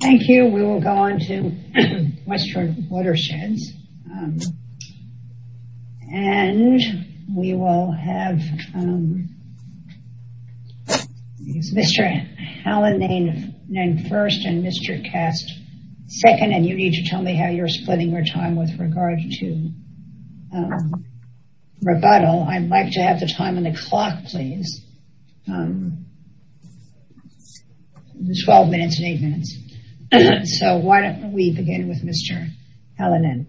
Thank you. We will go on to Western Watersheds and we will have Mr. Alan Nain first and Mr. Kast second and you need to tell me how you're splitting your time with regard to rebuttal. I'd like to have the time on the clock, please. 12 minutes and 8 minutes. So why don't we begin with Mr. Alan Nain.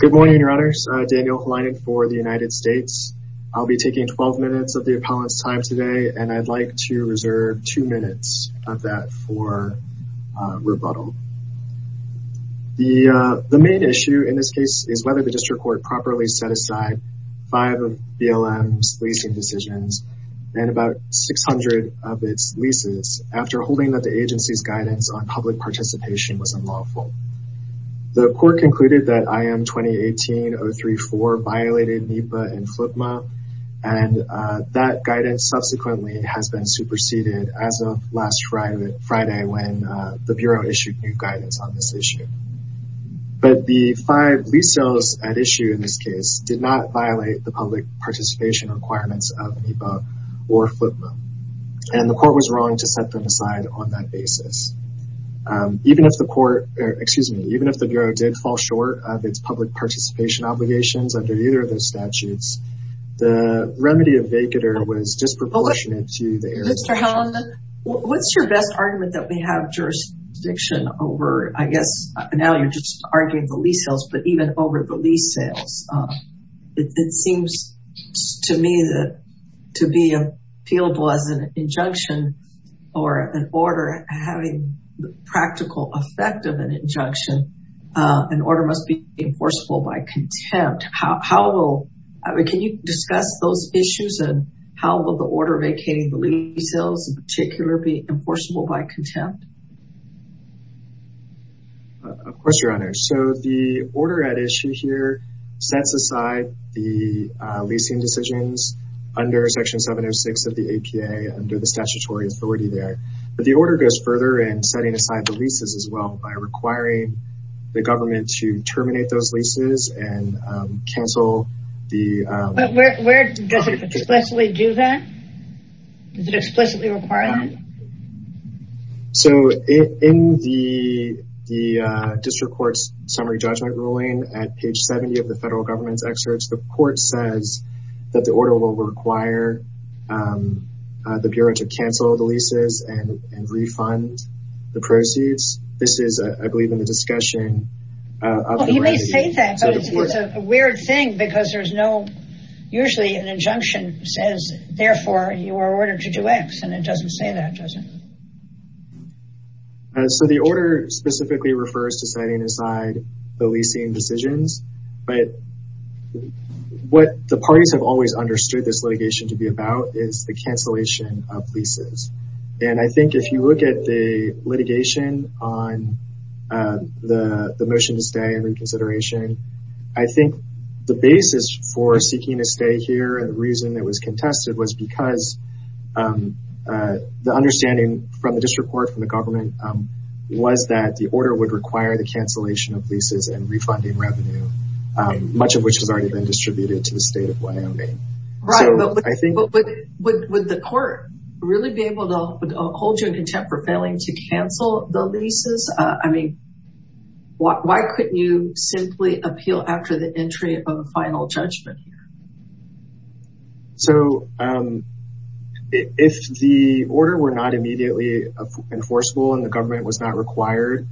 Good morning, Your Honors. Daniel Hleinen for the United States. I'll be taking 12 minutes of the appellant's time today and I'd like to reserve two minutes of that for rebuttal. The main issue in this case is whether the district court properly set aside five of BLM's leasing decisions and about 600 of its leases after holding that the agency's guidance on public participation was unlawful. The court concluded that IM-2018-034 violated NEPA and FLIPMA and that guidance subsequently has been superseded as of last Friday when the Bureau issued new guidance on this issue. But the five lease sales at issue in this case did not violate the public participation requirements of NEPA or FLIPMA and the court was wrong to set them aside on that basis. Even if the Bureau did fall short of its public participation obligations under either of those statutes, the remedy of vacater was jurisdiction over, I guess, now you're just arguing the lease sales, but even over the lease sales. It seems to me that to be appealable as an injunction or an order having the practical effect of an injunction, an order must be enforceable by contempt. How will, can you discuss those issues and how will the order vacating the lease sales in particular be enforceable? Of course, Your Honor. So the order at issue here sets aside the leasing decisions under Section 706 of the APA under the statutory authority there. But the order goes further and setting aside the leases as well by requiring the government to terminate those leases and cancel the... But where does it explicitly do that? Does it explicitly require that? So in the district court's summary judgment ruling at page 70 of the federal government's excerpts, the court says that the order will require the Bureau to cancel the leases and refund the proceeds. This is, I believe, in the discussion of the remedy. You may say that, but it's a weird thing because there's no, usually an injunction says, therefore, you are ordered to do X. And it doesn't say that, does it? So the order specifically refers to setting aside the leasing decisions. But what the parties have always understood this litigation to be about is the cancellation of leases. And I think if you look at the litigation on the motion to stay and reconsideration, I think the basis for seeking to stay here and the reason that was contested was because the understanding from the district court, from the government, was that the order would require the cancellation of leases and refunding revenue, much of which has already been distributed to the state of Wyoming. Right. But would the court really be able to hold you in contempt for failing to cancel the final judgment here? So if the order were not immediately enforceable and the government was not required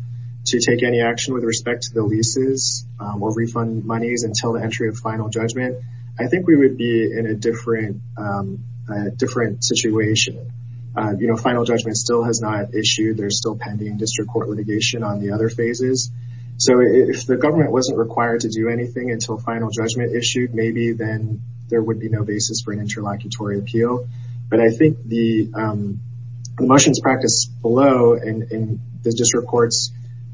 to take any action with respect to the leases or refund monies until the entry of final judgment, I think we would be in a different situation. You know, final judgment still has not issued. There's still pending district court litigation on the other phases. So if the government wasn't required to do anything until final judgment issued, maybe then there would be no basis for an interlocutory appeal. But I think the motions practiced below in the district court's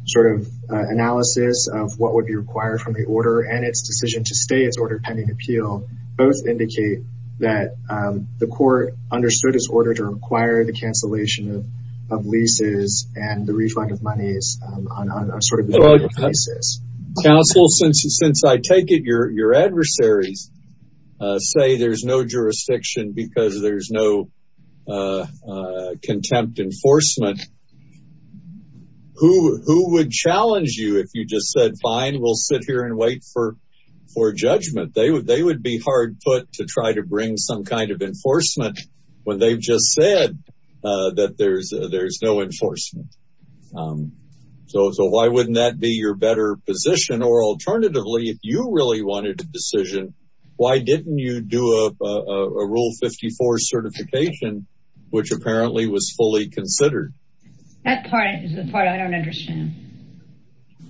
sort of analysis of what would be required from the order and its decision to stay as order pending appeal both indicate that the court understood its order to require the cancellation of leases and the refund of monies on a sort of deferred basis. Counsel, since I take it your adversaries say there's no jurisdiction because there's no contempt enforcement, who would challenge you if you just said, fine, we'll sit here and wait for judgment? They would be hard put to try to bring some kind of enforcement when they've just said that there's no enforcement. So why wouldn't that be your better position? Or alternatively, if you really wanted a decision, why didn't you do a Rule 54 certification, which apparently was fully considered? That part is the part I don't understand.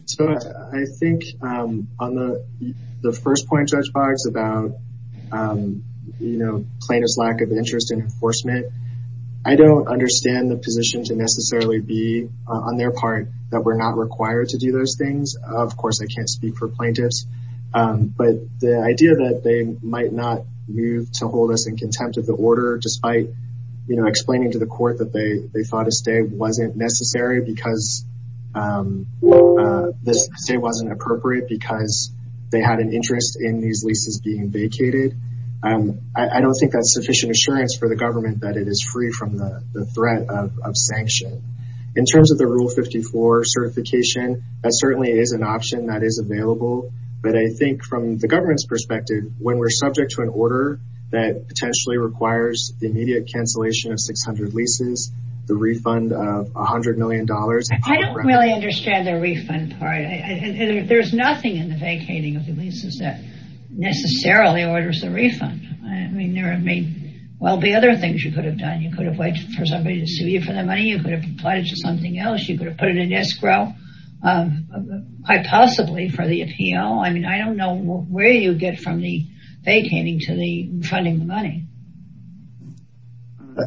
So I think on the first point, Judge Boggs, about, you know, plaintiff's lack of interest in enforcement, I don't understand the position to necessarily be on their part that we're not required to do those things. Of course, I can't speak for plaintiffs, but the idea that they might not move to hold us in contempt of the order, despite explaining to the court that they thought a stay wasn't necessary because this stay wasn't appropriate because they had an interest in these leases being vacated. I don't think that's sufficient assurance for the government that it is free from the threat of sanction. In terms of the Rule 54 certification, that certainly is an option that is available. But I think from the government's perspective, when we're subject to an order that potentially requires the immediate cancellation of 600 leases, the refund of $100 million. I don't really understand the refund part. There's nothing in the vacating of the leases that necessarily orders a refund. I mean, there may well be other things you could have done. You could have waited for somebody to sue you for the money. You could have applied it to something else. You could have put it in escrow, quite possibly for the appeal. I mean, I don't know where you get from the vacating to the funding the money.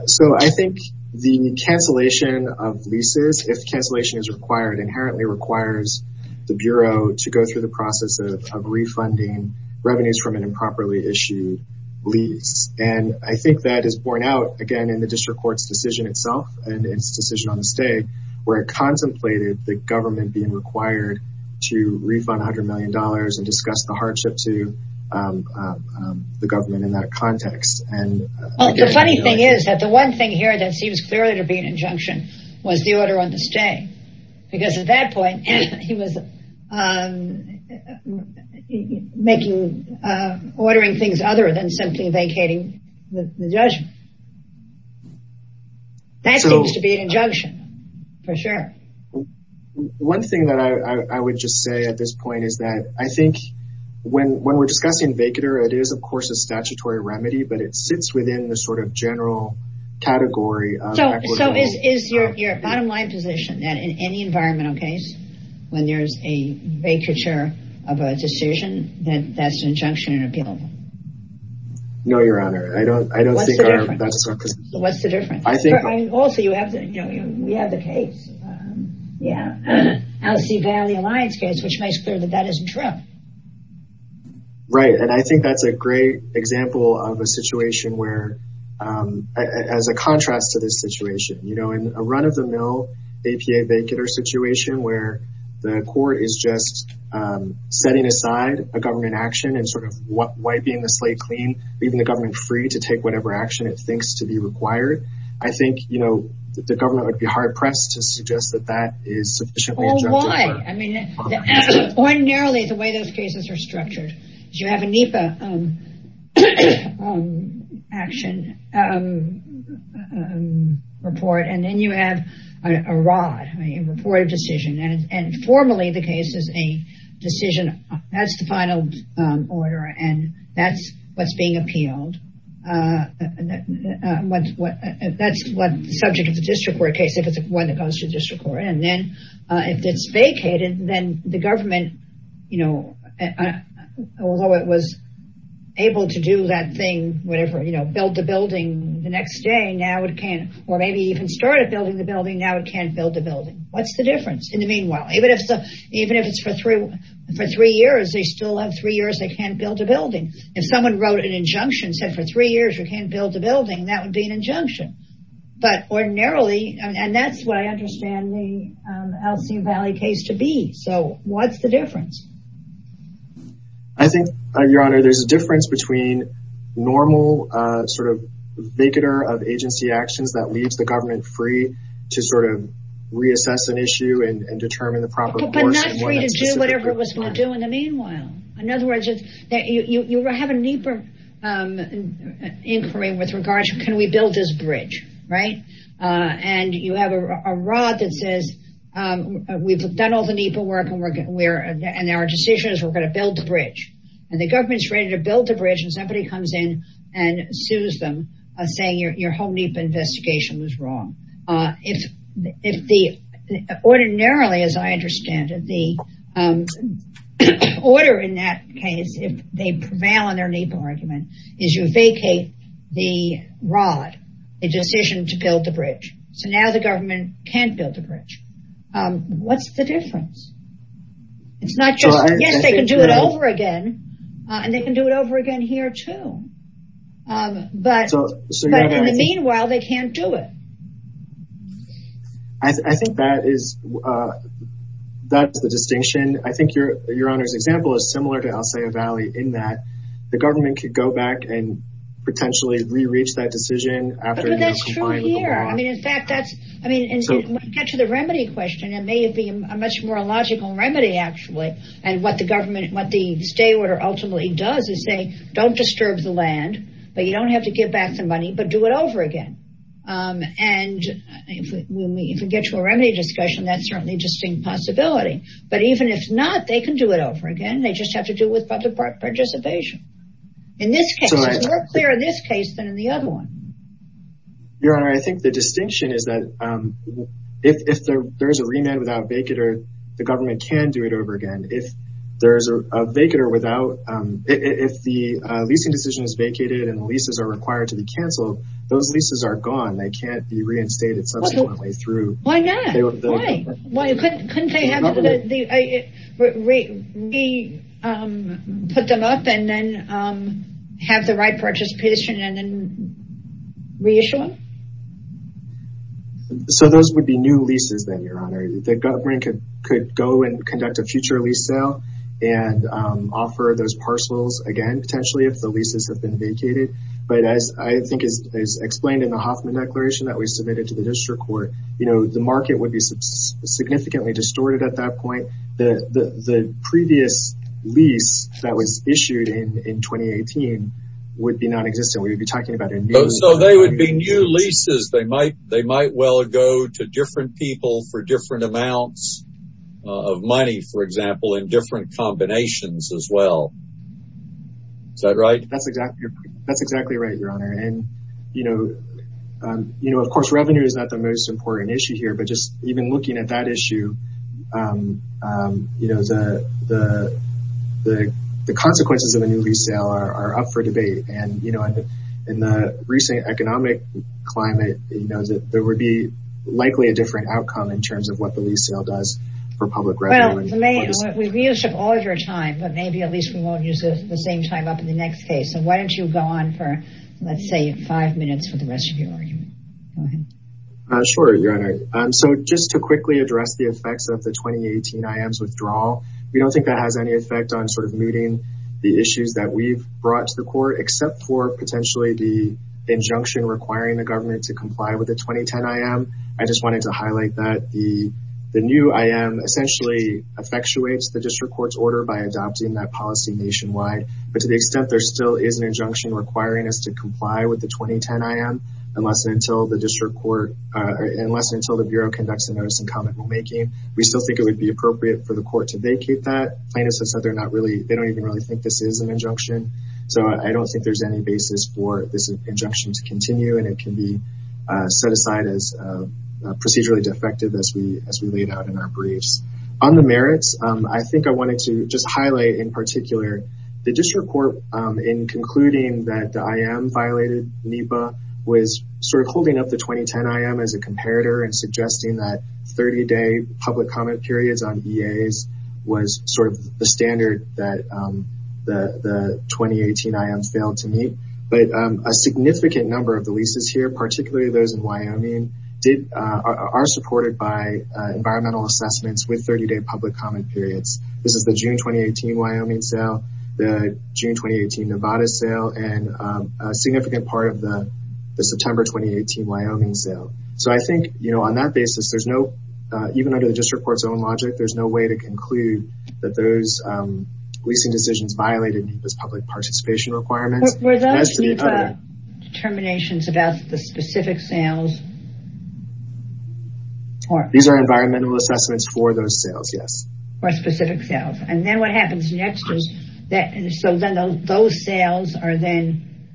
So I think the cancellation of leases, if cancellation is required, inherently requires the Bureau to go through the process of refunding revenues from an improperly issued lease. And I think that is borne out, again, in the district court's decision itself and its decision on the stay, where it contemplated the government being required to refund $100 million and discuss the hardship to the government in that context. And the funny thing is that the one thing here that seems clearly to be an injunction was the order on the stay, because at that point he was making, ordering things other than simply vacating the judgment. That seems to be an injunction, for sure. One thing that I would just say at this point is that I think when we're discussing vacater, it is, of course, a statutory remedy, but it sits within the sort of general category. So is your bottom line position that in any environmental case, when there's a vacature of a decision, that that's an injunction in appeal? No, Your Honor, I don't think that's what's the difference. Also, we have the case, Alcee Valley Alliance case, which makes clear that that isn't true. Right, and I think that's a great example of a situation where, as a contrast to this situation, in a run-of-the-mill APA vacater situation where the court is just setting aside a government action and sort of wiping the slate clean, leaving the government free to take whatever action it thinks to be required, I think, you know, that the government would be hard-pressed to suggest that that is sufficiently injunctive. Oh, why? I mean, ordinarily the way those cases are structured is you have a NEPA action report, and then you have a ROD, a report of decision, and formally the case is a decision, that's the one that's being appealed, that's the subject of the district court case, if it's one that goes to district court, and then if it's vacated, then the government, you know, although it was able to do that thing, whatever, you know, build the building the next day, now it can't, or maybe even started building the building, now it can't build the building. What's the difference? In the meanwhile, even if it's for three years, they still have three years, they can't build a building, that would be an injunction, but ordinarily, and that's what I understand the Alseem Valley case to be, so what's the difference? I think, Your Honor, there's a difference between normal, sort of, vacater of agency actions that leaves the government free to sort of reassess an issue and determine the proper course. But not free to do whatever it was going to do in the meanwhile. In other words, you have a NEPA inquiry with regards to can we build this bridge, right? And you have a rod that says, we've done all the NEPA work and our decision is we're going to build the bridge. And the government's ready to build the bridge and somebody comes in and sues them, saying your whole NEPA investigation was wrong. If the ordinarily, as I understand it, the order in that case, if they prevail on their NEPA argument, is you vacate the rod, the decision to build the bridge. So now the government can't build the bridge. What's the difference? It's not just, yes, they can do it over again, and they can do it over again here, too. But in the meanwhile, they can't do it. I think that is the distinction. I think your Honor's example is similar to Alsaia Valley in that the government could go back and potentially re-reach that decision. But that's true here. I mean, in fact, that's, I mean, when you get to the remedy question, it may have been a much more logical remedy, actually. And what the government, what the stay order ultimately does is say, don't disturb the land, but you don't have to give back the money, but do it over again. And if we get to a remedy discussion, that's certainly a distinct possibility. But even if not, they can do it over again. They just have to do it with public participation. In this case, it's more clear in this case than in the other one. Your Honor, I think the distinction is that if there is a remand without vacater, the government can do it over again. If there is a vacater without, if the leasing decision is vacated and leases are required to be canceled, those leases are gone. They can't be reinstated subsequently through. Why not? Why? Couldn't they put them up and then have the right participation and then reissue them? So those would be new leases then, Your Honor. The government could go and conduct a future lease sale and offer those parcels again, potentially, if the leases have been vacated. But as I think is explained in the Hoffman Declaration that we submitted to the district court, you know, the market would be significantly distorted at that point. The previous lease that was issued in 2018 would be non-existent. We would be talking about a new lease. So they would be new leases. They might well go to different people for different amounts of money, for example, in different combinations as well. Is that right? That's exactly that's exactly right, Your Honor. And, you know, you know, of course, revenue is not the most important issue here. But just even looking at that issue, you know, the consequences of a new lease sale are up for debate. And, you know, in the recent economic climate, you know, there would be likely a different outcome in terms of what the lease sale does for public revenue. We've used up all of your time, but maybe at least we won't use the same time up in the next case. So why don't you go on for, let's say, five minutes for the rest of your argument. Sure, Your Honor. So just to quickly address the effects of the 2018 IM's withdrawal, we don't think that has any effect on sort of meeting the issues that we've brought to the court, except for potentially the injunction requiring the government to comply with the 2010 IM. I just wanted to highlight that the new IM essentially effectuates the district court's order by adopting that policy nationwide. But to the extent there still is an injunction requiring us to comply with the 2010 IM, unless and until the district court, unless and until the bureau conducts a notice and comment rulemaking, we still think it would be appropriate for the court to vacate that. Plaintiffs have said they're not really, they don't even really think this is an injunction. So I don't think there's any basis for this injunction to continue and it can be set aside as procedurally defective as we as we laid out in our briefs. On the merits, I think I wanted to just highlight in particular the district court in concluding that the IM violated NEPA was sort of holding up the 2010 IM as a comparator and suggesting that 30 day public comment periods on EAs was sort of the standard that the 2018 IM failed to meet. But a significant number of the leases here, particularly those in Wyoming, are supported by environmental assessments with 30 day public comment periods. This is the June 2018 Wyoming sale, the June 2018 Nevada sale, and a significant part of the September 2018 Wyoming sale. So I think, you know, on that basis, there's no, even under the district court's own decisions, violated NEPA's public participation requirements. Were those NEPA determinations about the specific sales? These are environmental assessments for those sales, yes. For specific sales. And then what happens next is that those sales are then,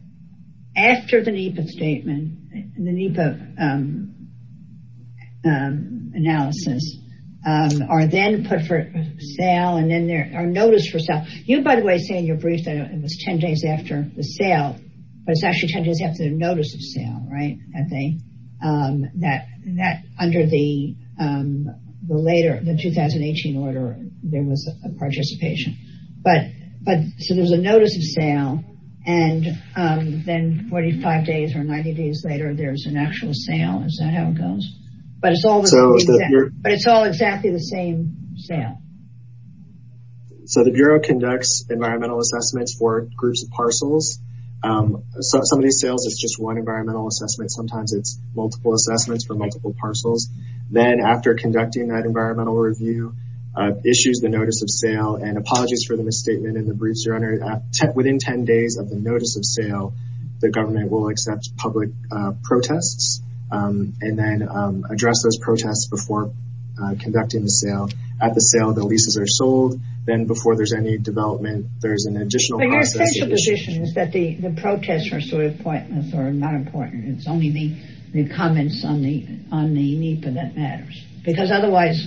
after the NEPA statement, the NEPA analysis, are then put for sale and then there are notice for sale. You, by the way, say in your brief that it was 10 days after the sale, but it's actually 10 days after the notice of sale, right? That thing that under the later, the 2018 order, there was a participation. But so there's a notice of sale and then 45 days or 90 days later, there's an actual sale. Is that how it goes? But it's all exactly the same sale. So the Bureau conducts environmental assessments for groups of parcels. So some of these sales, it's just one environmental assessment. Sometimes it's multiple assessments for multiple parcels. Then after conducting that environmental review, issues the notice of sale and apologies for the misstatement in the briefs, within 10 days of the notice of sale, the government will accept public protests and then address those protests before conducting the sale. At the sale, the leases are sold. Then before there's any development, there's an additional process. But your essential position is that the protests are sort of pointless or not important. It's only the comments on the NEPA that matters because otherwise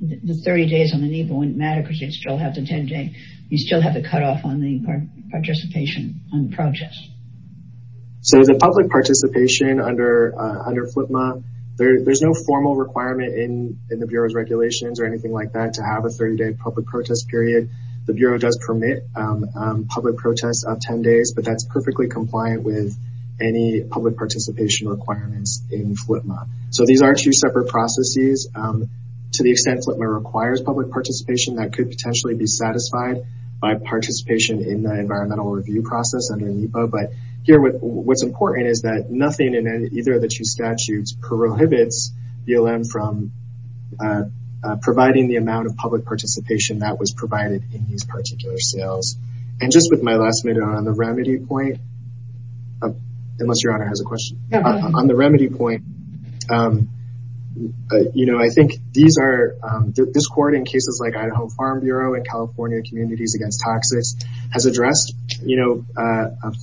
the 30 days on the NEPA wouldn't matter because you'd still have the 10 day. You'd still have to cut off on the participation on the protests. So the public participation under FLIPMA, there's no formal requirement in the Bureau's regulations or anything like that to have a 30 day public protest period. The Bureau does permit public protests of 10 days, but that's perfectly compliant with any public participation requirements in FLIPMA. So these are two separate processes. To the extent FLIPMA requires public participation, that could potentially be satisfied by participation in the environmental review process under NEPA. But here, what's important is that nothing in either of the two statutes prohibits BLM from providing the amount of public participation that was provided in these particular sales. And just with my last minute on the remedy point, unless Your Honor has a question. On the remedy point, I think this court in cases like Idaho Farm Bureau and California Communities Against Toxics has addressed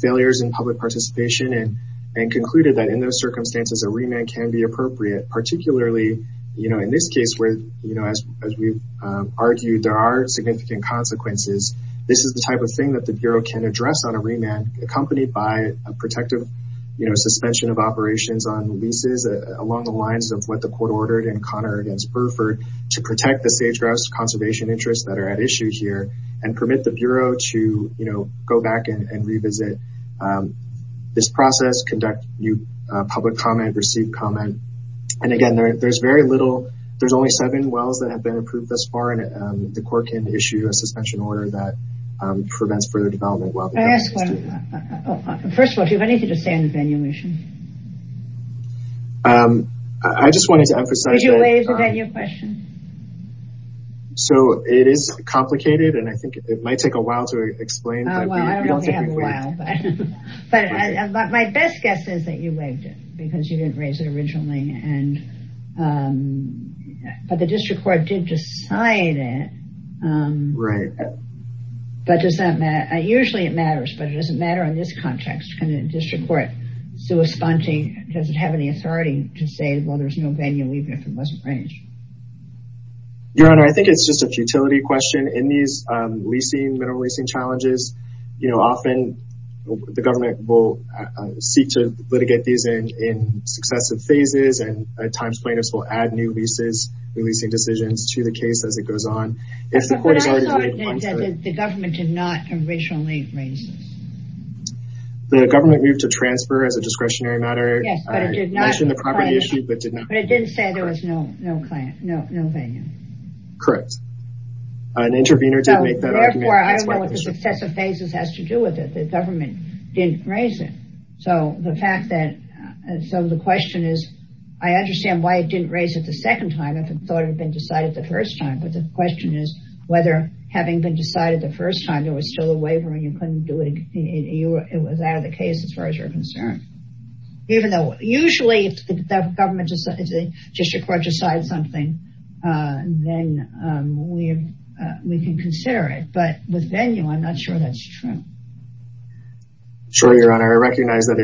failures in public participation and concluded that in those circumstances, a remand can be appropriate, particularly in this case where, as we've argued, there are significant consequences. This is the type of thing that the Bureau can address on a remand accompanied by a protective suspension of operations on leases along the lines of what the court ordered in Connor against Burford to protect the sage-grouse conservation interests that are at issue here and permit the Bureau to go back and revisit. And this process conducts new public comment, received comment. And again, there's very little, there's only seven wells that have been approved thus far and the court can issue a suspension order that prevents further development. Well, first of all, do you have anything to say on the venue issue? I just wanted to emphasize. So it is complicated and I think it might take a while to explain. Well, I don't know if we have a while, but my best guess is that you waived it because you didn't raise it originally. But the district court did decide it. Right. But does that matter? Usually it matters, but it doesn't matter in this context. Can a district court, does it have any authority to say, well, there's no venue even if it wasn't raised? Your Honor, I think it's just a futility question. In these leasing, mineral leasing challenges, you know, often the government will seek to litigate these in successive phases and at times plaintiffs will add new leases, new leasing decisions to the case as it goes on. The government did not originally raise this. The government moved to transfer as a discretionary matter, mentioned the property issue, but did not. But it didn't say there was no venue. Correct. An intervener did make that argument. Therefore, I don't know what the successive phases has to do with it. The government didn't raise it. So the fact that, so the question is, I understand why it didn't raise it the second time if it thought it had been decided the first time. But the question is whether having been decided the first time there was still a waiver and you couldn't do it, it was out of the case as far as you're concerned. Even though usually if the government, if the district court decides something, then we can consider it. But with venue, I'm not sure that's true. Sure, Your Honor. I recognize that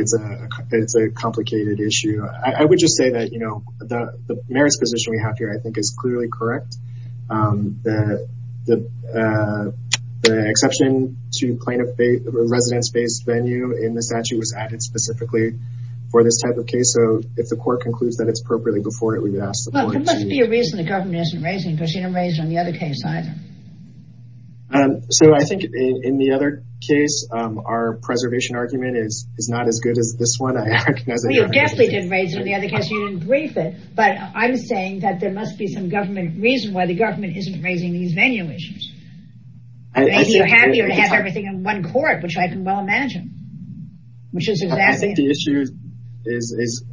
it's a complicated issue. I would just say that, you know, the merits position we have here, I think is clearly correct. The exception to residence-based venue in the statute was added specifically for this type of case. So if the court concludes that it's appropriately before it, we would ask the point. There must be a reason the government isn't raising it because you didn't raise it on the other case either. So I think in the other case, our preservation argument is not as good as this one. I recognize that. Well, you definitely didn't raise it in the other case. You didn't brief it. But I'm saying that there must be some government reason why the government isn't raising these venue issues. I think you're happier to have everything in one court, which I can well imagine, which is exactly. The issue is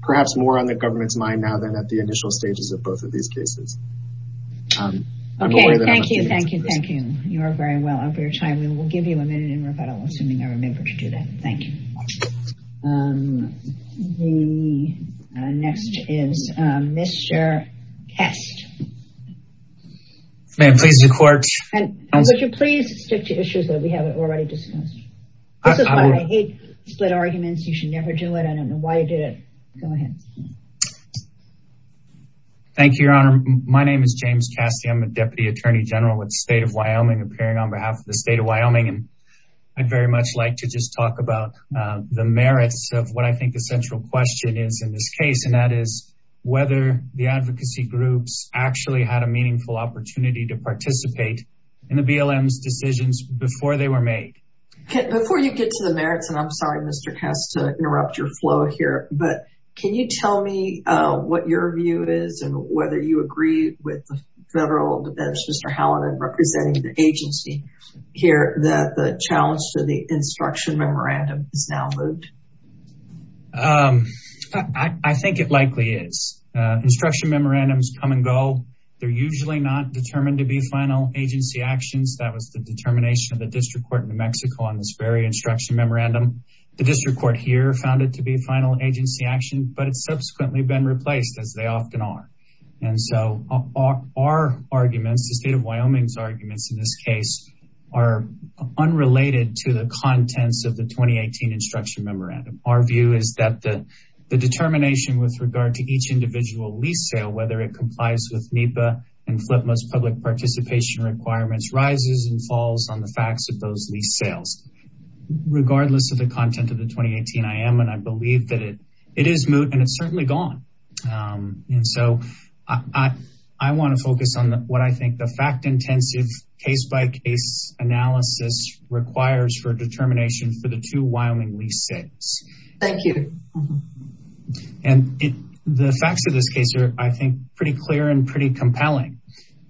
perhaps more on the government's mind now than at the initial stages of both of these cases. Okay, thank you. Thank you. Thank you. You are very well over your time. We will give you a minute in rebuttal, assuming I remember to do that. Thank you. Um, the next is Mr. Kast. May it please the court. And would you please stick to issues that we haven't already discussed? This is why I hate split arguments. You should never do it. I don't know why you did it. Go ahead. Thank you, Your Honor. My name is James Kast. of Wyoming. I'd very much like to just talk about the merits of what I think the central question is in this case. And that is whether the advocacy groups actually had a meaningful opportunity to participate in the BLM's decisions before they were made. Before you get to the merits, and I'm sorry, Mr. Kast, to interrupt your flow here. But can you tell me what your view is and whether you agree with the federal defense, representing the agency here, that the challenge to the instruction memorandum is now moved? I think it likely is. Instruction memorandums come and go. They're usually not determined to be final agency actions. That was the determination of the district court in New Mexico on this very instruction memorandum. The district court here found it to be a final agency action, but it's subsequently been replaced as they often are. And so our arguments, the state of Wyoming's arguments in this case, are unrelated to the contents of the 2018 instruction memorandum. Our view is that the determination with regard to each individual lease sale, whether it complies with NEPA and FLIPMA's public participation requirements, rises and falls on the facts of those lease sales. Regardless of the content of the 2018 IM, and I believe that it is moot and it's certainly gone. And so I want to focus on what I think the fact-intensive case-by-case analysis requires for determination for the two Wyoming lease sales. Thank you. And the facts of this case are, I think, pretty clear and pretty compelling.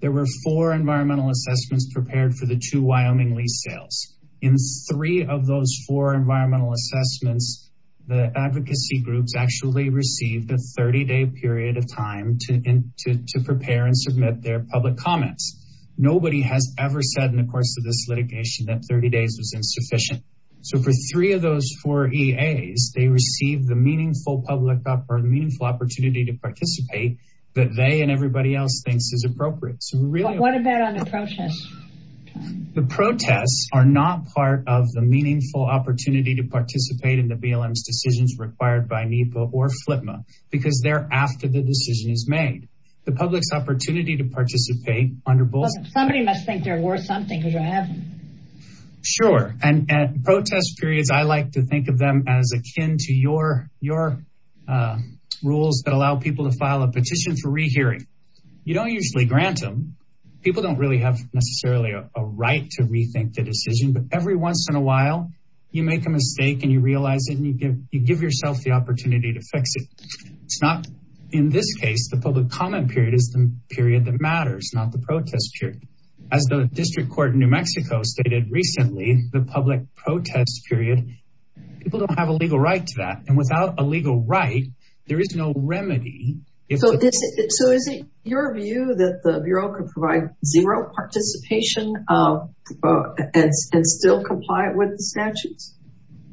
There were four environmental assessments prepared for the two Wyoming lease sales. In three of those four environmental assessments, the advocacy groups actually received a third 30-day period of time to prepare and submit their public comments. Nobody has ever said in the course of this litigation that 30 days was insufficient. So for three of those four EAs, they received the meaningful public opportunity to participate that they and everybody else thinks is appropriate. So we really- What about on the protests? The protests are not part of the meaningful opportunity to participate in the BLM's required by NEPA or FLTMA because they're after the decision is made. The public's opportunity to participate under both- Somebody must think they're worth something because you have them. Sure. And protest periods, I like to think of them as akin to your rules that allow people to file a petition for rehearing. You don't usually grant them. People don't really have necessarily a right to rethink the decision, but every once in you realize it and you give yourself the opportunity to fix it. It's not in this case, the public comment period is the period that matters, not the protest period. As the district court in New Mexico stated recently, the public protest period, people don't have a legal right to that. And without a legal right, there is no remedy. So is it your view that the Bureau could provide zero participation and still comply with the statutes?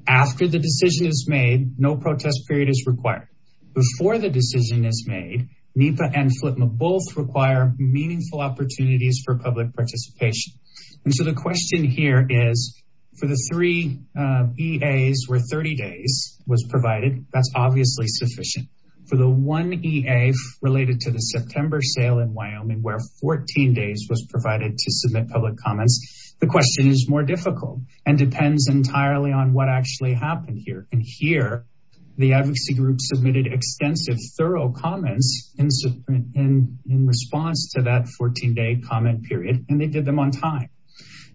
After the decision is made, no protest period is required. Before the decision is made, NEPA and FLTMA both require meaningful opportunities for public participation. And so the question here is for the three EAs where 30 days was provided, that's obviously sufficient. For the one EA related to the September sale in Wyoming where 14 days was provided to submit on what actually happened here. And here, the advocacy group submitted extensive thorough comments in response to that 14 day comment period, and they did them on time.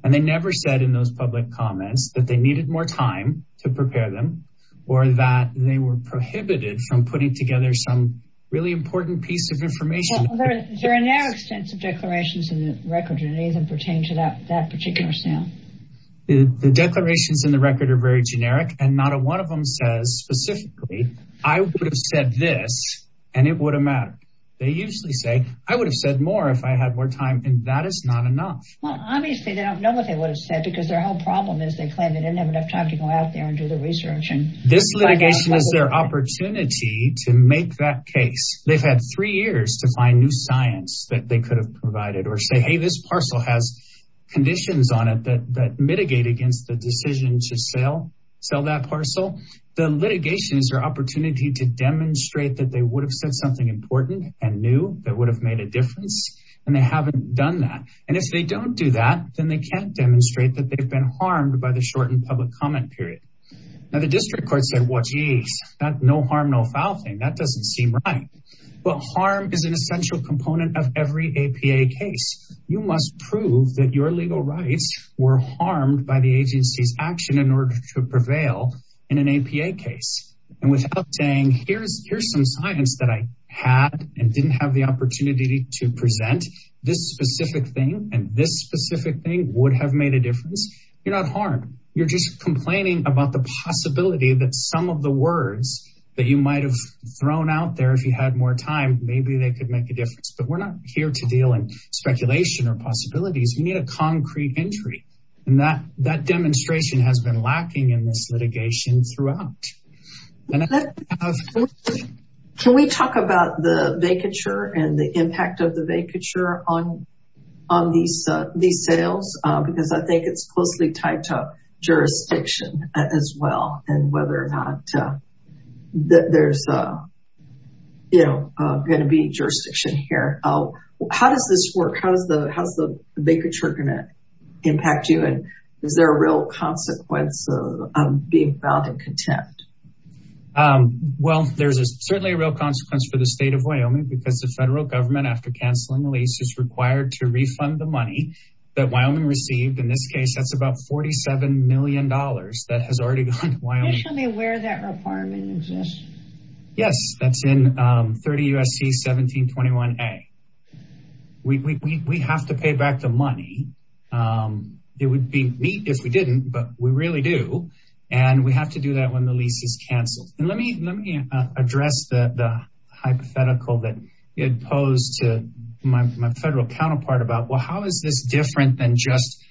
And they never said in those public comments that they needed more time to prepare them or that they were prohibited from putting together some really important piece of information. Well, there are now extensive declarations in the record and it doesn't pertain to that particular sale. The declarations in the record are very generic and not a one of them says specifically, I would have said this and it would have mattered. They usually say, I would have said more if I had more time and that is not enough. Well, obviously they don't know what they would have said because their whole problem is they claim they didn't have enough time to go out there and do the research. And this litigation is their opportunity to make that case. They've had three years to find new science that they could have provided or say, hey, this parcel has conditions on it that mitigate against the decision to sell that parcel. The litigation is their opportunity to demonstrate that they would have said something important and new that would have made a difference. And they haven't done that. And if they don't do that, then they can't demonstrate that they've been harmed by the shortened public comment period. Now, the district court said, well, geez, no harm, no foul thing. That doesn't seem right. But harm is an essential component of every APA case. You must prove that your legal rights were harmed by the agency's action in order to prevail in an APA case. And without saying, here's some science that I had and didn't have the opportunity to present, this specific thing and this specific thing would have made a difference. You're not harmed. You're just complaining about the possibility that some of the words that you might have thrown out there, if you had more time, maybe they could make a difference. But we're not here to deal in speculation or possibilities. We need a concrete entry. And that demonstration has been lacking in this litigation throughout. Can we talk about the vacature and the impact of the vacature on these sales? Because I think it's closely tied to jurisdiction as well. Whether or not there's going to be jurisdiction here. How does this work? How's the vacature going to impact you? And is there a real consequence of being found in contempt? Well, there's certainly a real consequence for the state of Wyoming because the federal government, after canceling the lease, is required to refund the money that Wyoming received. In this case, that's about $47 million that has already gone to Wyoming. Can you tell me where that requirement exists? Yes, that's in 30 U.S.C. 1721A. We have to pay back the money. It would be neat if we didn't, but we really do. And we have to do that when the lease is canceled. How is this different than just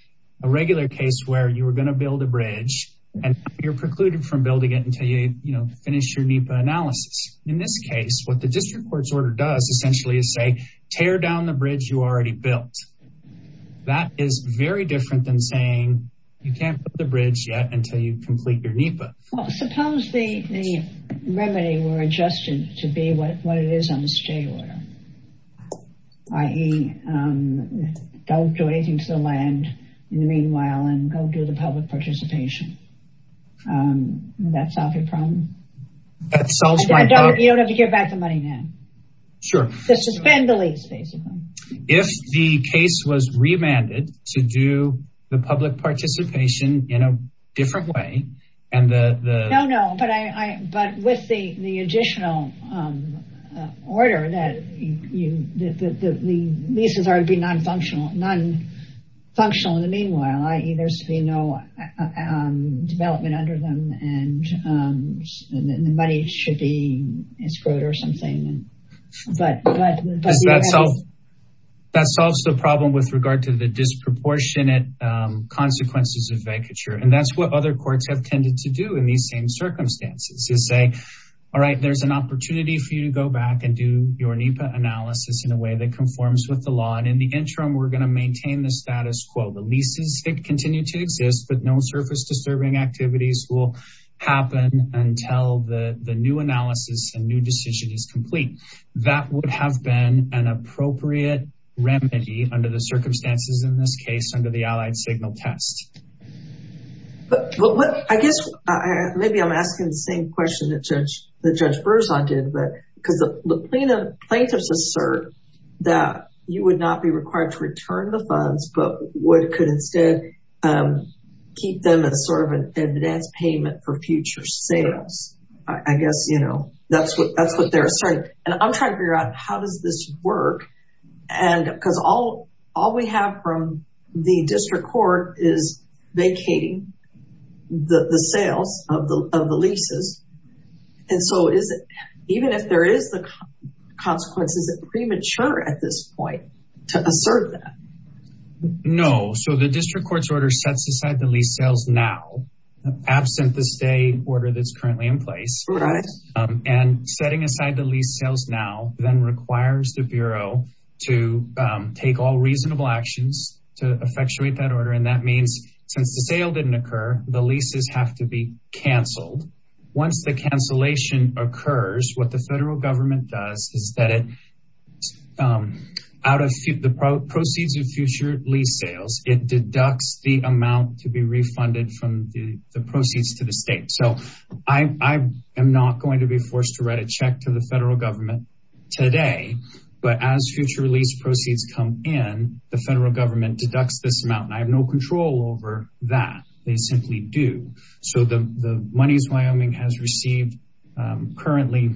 a regular case where you were going to build a bridge and you're precluded from building it until you finish your NEPA analysis? In this case, what the district court's order does essentially is say, tear down the bridge you already built. That is very different than saying you can't put the bridge yet until you complete your NEPA. Suppose the remedy were adjusted to be what it is on the state order. I.e., don't do anything to the land in the meanwhile and go do the public participation. That solves your problem. That solves my problem. You don't have to give back the money now. Sure. Just suspend the lease, basically. If the case was remanded to do the public participation in a different way and the... But with the additional order that the leases are to be non-functional in the meanwhile. I.e., there's to be no development under them and the money should be escrowed or something. That solves the problem with regard to the disproportionate consequences of vacature. That's what other courts have tended to do in these same circumstances. To say, all right, there's an opportunity for you to go back and do your NEPA analysis in a way that conforms with the law. And in the interim, we're going to maintain the status quo. The leases continue to exist, but no surface disturbing activities will happen until the new analysis and new decision is complete. That would have been an appropriate remedy under the circumstances in this case under the Allied Signal Test. Well, I guess maybe I'm asking the same question that Judge Berzon did. But because the plaintiffs assert that you would not be required to return the funds, but what could instead keep them as sort of an advance payment for future sales. I guess, you know, that's what they're saying. And I'm trying to figure out how does this work? And because all we have from the district court is vacating the sales of the leases. And so even if there is the consequences, is it premature at this point to assert that? No. So the district court's order sets aside the lease sales now, absent the stay order that's currently in place. And setting aside the lease sales now then requires the Bureau to take all reasonable actions to effectuate that order. And that means since the sale didn't occur, the leases have to be canceled. Once the cancellation occurs, what the federal government does is that it out of the proceeds of future lease sales, it deducts the amount to be refunded from the proceeds to the state. So I am not going to be forced to write a check to the federal government today. But as future lease proceeds come in, the federal government deducts this amount. And I have no control over that. They simply do. So the monies Wyoming has received currently,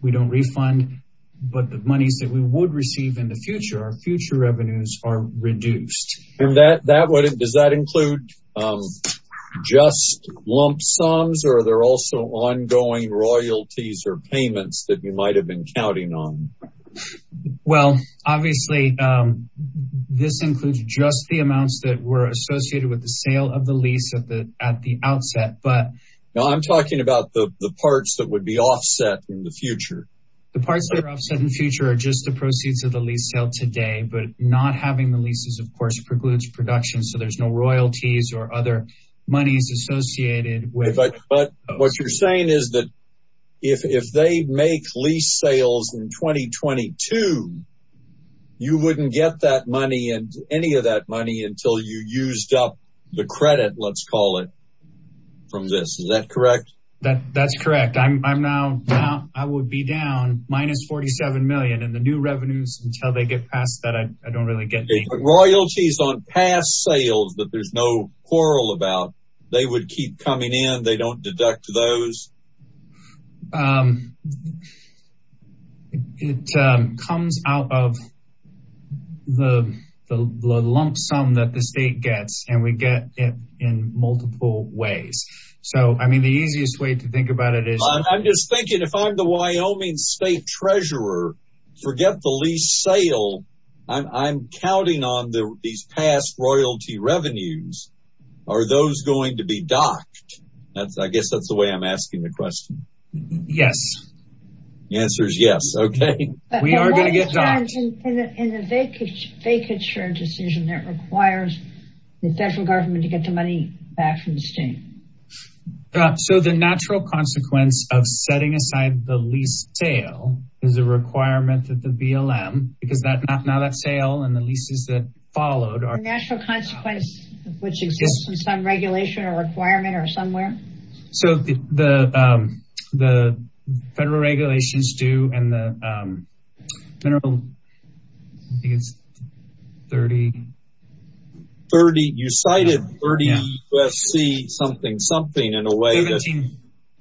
we don't refund. But the monies that we would receive in the future, our future revenues are reduced. And does that include just lump sums or are there also ongoing royalties or payments that you might have been counting on? Well, obviously, this includes just the amounts that were associated with the sale of the lease at the outset. But... Now I'm talking about the parts that would be offset in the future. The parts that are offset in the future are just the proceeds of the lease sale today. But not having the leases, of course, precludes production. So there's no royalties or other monies associated with it. But what you're saying is that if they make lease sales in 2022, you wouldn't get that money and any of that money until you used up the credit, let's call it, from this. Is that correct? That's correct. I'm now down. I would be down minus 47 million in the new revenues until they get past that. I don't really get it. Royalties on past sales that there's no quarrel about. They would keep coming in. They don't deduct those. It comes out of the lump sum that the state gets and we get it in multiple ways. So, I mean, the easiest way to think about it is... I'm just thinking if I'm the Wyoming state treasurer, forget the lease sale. I'm counting on these past royalty revenues. Are those going to be docked? I guess that's the way I'm asking the question. Yes. The answer is yes. Okay. We are going to get docked. In a vacature decision that requires the federal government to get the money back from the state. So, the natural consequence of setting aside the lease sale is a requirement of the BLM. Because now that sale and the leases that followed are... Natural consequence, which exists in some regulation or requirement or somewhere. So, the federal regulations do and the general... I think it's 30... 30. You cited 30 UFC something. In a way that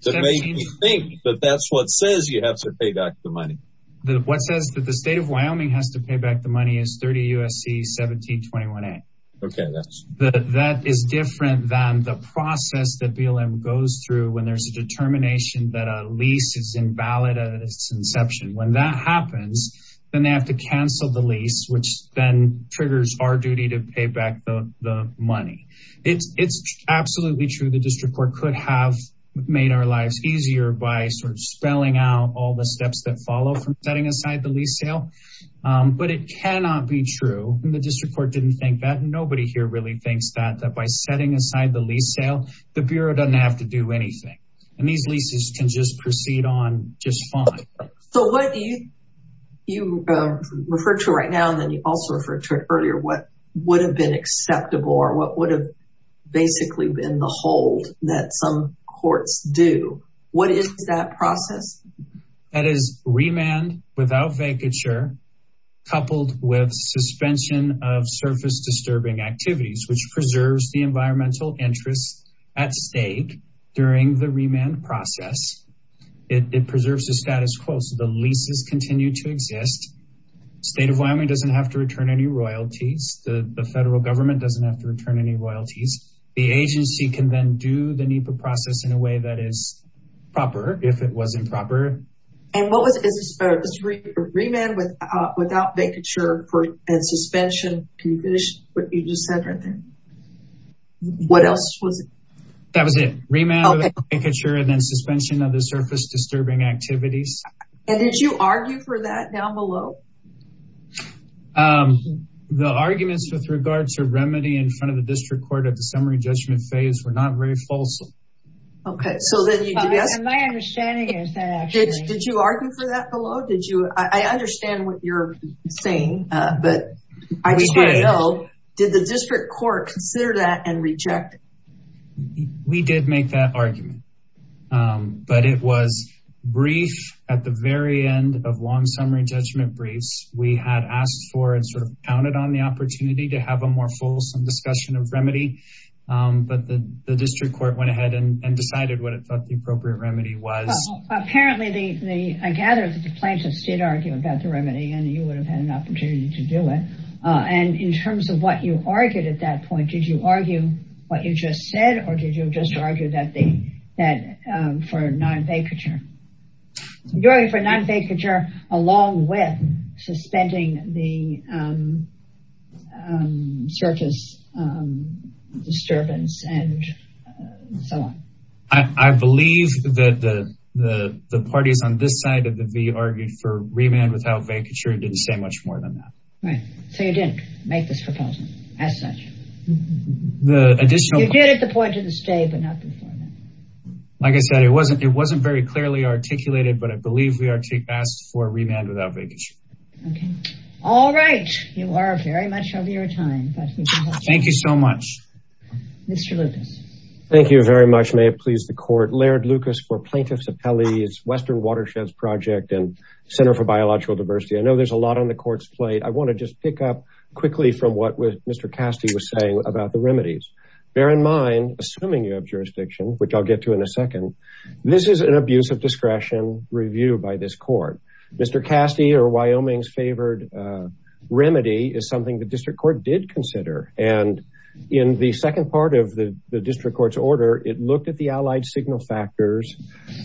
makes me think that that's what says you have to pay back the money. What says that the state of Wyoming has to pay back the money is 30 UFC 1721A. Okay. That is different than the process that BLM goes through when there's a determination that a lease is invalid at its inception. When that happens, then they have to cancel the lease, which then triggers our duty to pay back the money. It's absolutely true. The district court could have made our lives easier by sort of spelling out all the steps that follow from setting aside the lease sale. But it cannot be true. The district court didn't think that. Nobody here really thinks that by setting aside the lease sale, the bureau doesn't have to do anything. And these leases can just proceed on just fine. So, what do you refer to right now? And then you also referred to it earlier. What would have been acceptable? What would have basically been the hold that some courts do? What is that process? That is remand without vacature, coupled with suspension of surface disturbing activities, which preserves the environmental interest at stake during the remand process. It preserves the status quo. So the leases continue to exist. State of Wyoming doesn't have to return any royalties. The federal government doesn't have to return any royalties. The agency can then do the NEPA process in a way that is proper if it was improper. And what was it? Is it remand without vacature and suspension? Can you finish what you just said right there? What else was it? That was it. Remand without vacature and then suspension of the surface disturbing activities. And did you argue for that down below? The arguments with regards to remedy in front of the district court at the summary judgment phase were not very false. Okay. So then you did ask. My understanding is that actually. Did you argue for that below? Did you? I understand what you're saying, but I just want to know, did the district court consider that and reject? We did make that argument. But it was brief at the very end of long summary judgment brief. We had asked for and sort of counted on the opportunity to have a more fulsome discussion of remedy. But the district court went ahead and decided what it thought the appropriate remedy was. Apparently, I gather that the plaintiffs did argue about the remedy and you would have had an opportunity to do it. And in terms of what you argued at that point, did you argue what you just said? Or did you just argue that for non-vacature? You're arguing for non-vacature along with suspending the circus disturbance and so on. I believe that the parties on this side of the V argued for remand without vacature. It didn't say much more than that. Right. So you didn't make this proposal as such. You did at the point of the stay, but not before that. Like I said, it wasn't very clearly articulated, but I believe we asked for remand without vacature. Okay. All right. You are very much of your time. Thank you so much. Mr. Lucas. Thank you very much. May it please the court. Laird Lucas for Plaintiffs Appellee's Western Watersheds Project and Center for Biological Diversity. I know there's a lot on the court's plate. I want to just pick up quickly from what Mr. Castee was saying about the remedies. Bear in mind, assuming you have jurisdiction, which I'll get to in a second, this is an abuse of discretion review by this court. Mr. Castee or Wyoming's favored remedy is something the district court did consider. And in the second part of the district court's order, it looked at the allied signal factors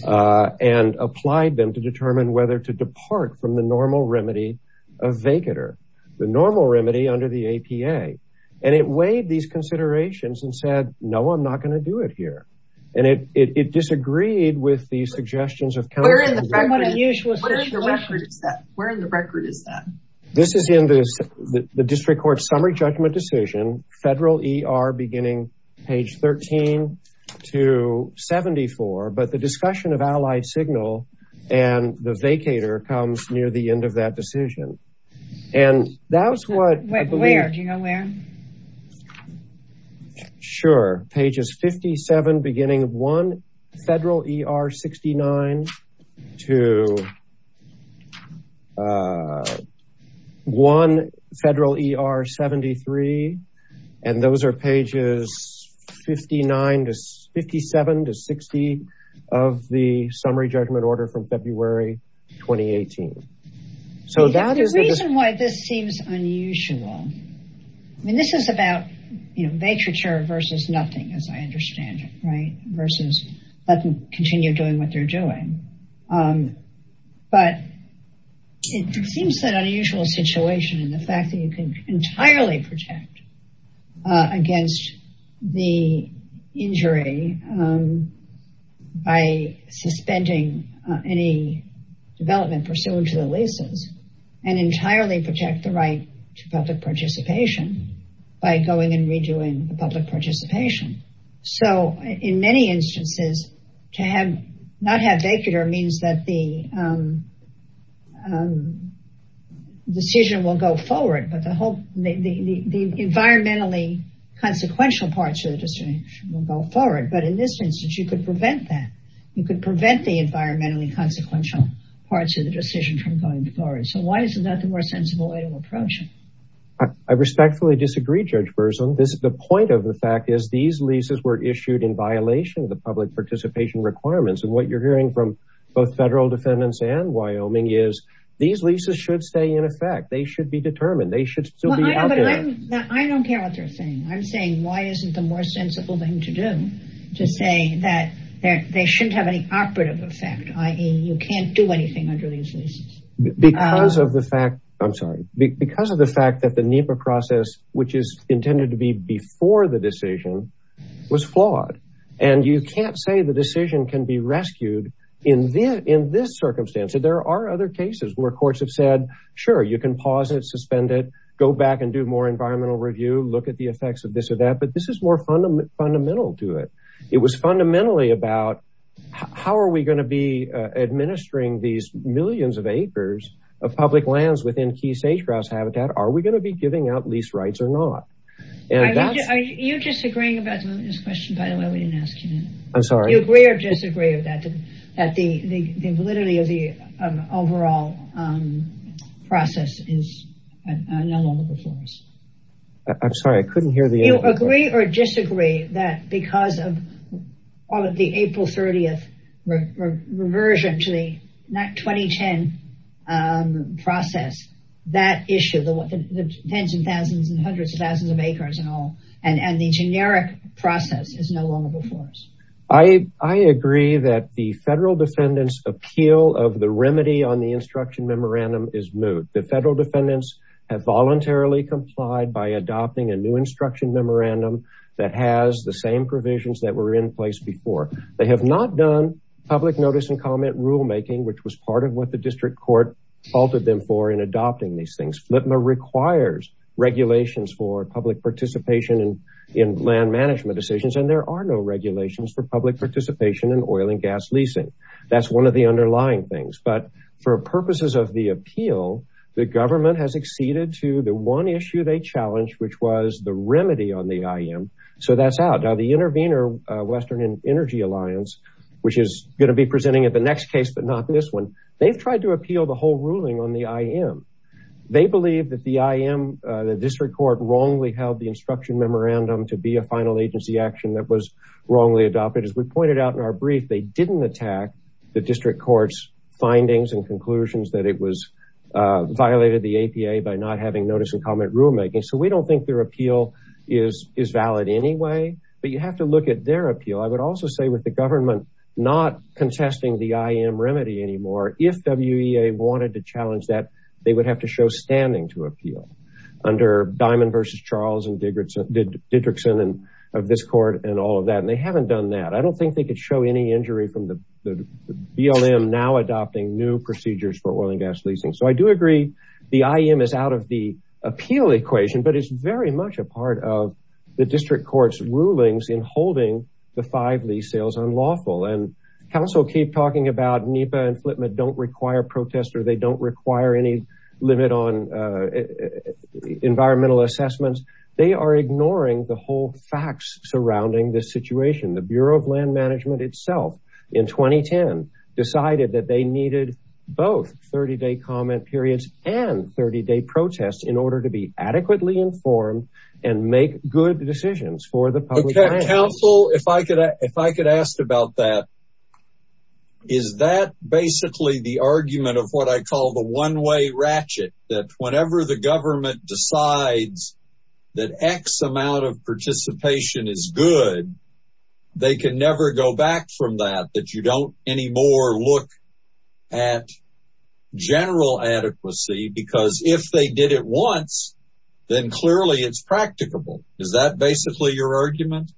and applied them to determine whether to depart from the normal remedy of vacature, the normal remedy under the APA. And it weighed these considerations and said, no, I'm not going to do it here. And it disagreed with the suggestions of counsel. Where in the record is that? This is in the district court summary judgment decision, federal ER beginning page 13 to 74. But the discussion of allied signal and the vacator comes near the end of that decision. And that's what I believe. Where? Do you know where? Sure. Pages 57, beginning of one federal ER 69 to one federal ER 73. And those are pages 59 to 57 to 60 of the summary judgment order from February 2018. So that is the reason why this seems unusual. I mean, this is about, you know, vacature versus nothing, as I understand it, right? Versus let them continue doing what they're doing. But it seems that unusual situation and the fact that you can entirely protect against the injury by suspending any development pursuant to the leases and entirely protect the right to public participation by going and redoing the public participation. So in many instances, to have not have vacator means that the decision will go forward. But the whole the environmentally consequential parts of the decision will go forward. But in this instance, you could prevent that. You could prevent the environmentally consequential parts of the decision from going forward. So why is that the more sensible way to approach it? I respectfully disagree, Judge Burson. The point of the fact is these leases were issued in violation of the public participation requirements. And what you're hearing from both federal defendants and Wyoming is these leases should stay in effect. They should be determined. They should still be out there. I don't care what they're saying. I'm saying why isn't the more sensible thing to do to say that they shouldn't have any operative effect, i.e. you can't do anything under these leases. I'm sorry, because of the fact that the NEPA process, which is intended to be before the decision was flawed. And you can't say the decision can be rescued in this circumstance. There are other cases where courts have said, sure, you can pause it, suspend it, go back and do more environmental review, look at the effects of this or that. But this is more fundamental to it. It was fundamentally about how are we going to be administering these millions of acres of public lands within key sage-grouse habitat? Are we going to be giving out lease rights or not? You're disagreeing about this question, by the way, we didn't ask you that. I'm sorry. Do you agree or disagree that the validity of the overall process is no longer before us? I'm sorry, I couldn't hear the answer. Do you agree or disagree that because of the April 30th reversion to the 2010 process, that issue, the tens of thousands and hundreds of thousands of acres and all, and the generic process is no longer before us? I agree that the federal defendants' appeal of the remedy on the instruction memorandum is moot. The federal defendants have voluntarily complied by adopting a new instruction memorandum that has the same provisions that were in place before. They have not done public notice and comment rulemaking, which was part of what the district court halted them for in adopting these things. FLTMA requires regulations for public participation in land management decisions, and there are no regulations for public participation in oil and gas leasing. That's one of the underlying things. For purposes of the appeal, the government has acceded to the one issue they challenged, which was the remedy on the IM. So that's out. Now, the Intervenor Western Energy Alliance, which is going to be presenting at the next case, but not this one, they've tried to appeal the whole ruling on the IM. They believe that the IM, the district court, wrongly held the instruction memorandum to be a final agency action that was wrongly adopted. As we pointed out in our brief, they didn't attack the district court's findings and conclusions that it was violated the APA by not having notice and comment rulemaking. So we don't think their appeal is valid anyway. But you have to look at their appeal. I would also say with the government not contesting the IM remedy anymore, if WEA wanted to challenge that, they would have to show standing to appeal under Diamond v. Charles and Didrickson of this court and all of that. And they haven't done that. I don't think they could show any injury from the BLM now adopting new procedures for oil and gas leasing. So I do agree the IM is out of the appeal equation, but it's very much a part of the district court's rulings in holding the five lease sales unlawful. And counsel keep talking about NEPA and FLTMA don't require protests or they don't require any limit on environmental assessments. They are ignoring the whole facts surrounding this situation. The Bureau of Land Management itself in 2010 decided that they needed both 30-day comment periods and 30-day protests in order to be adequately informed and make good decisions for the public. Counsel, if I could, if I could ask about that, is that basically the argument of what I call the one way ratchet that whenever the government decides that X amount of participation is good, they can never go back from that, that you don't anymore look at general adequacy because if they did it once, then clearly it's practicable. Is that basically your argument?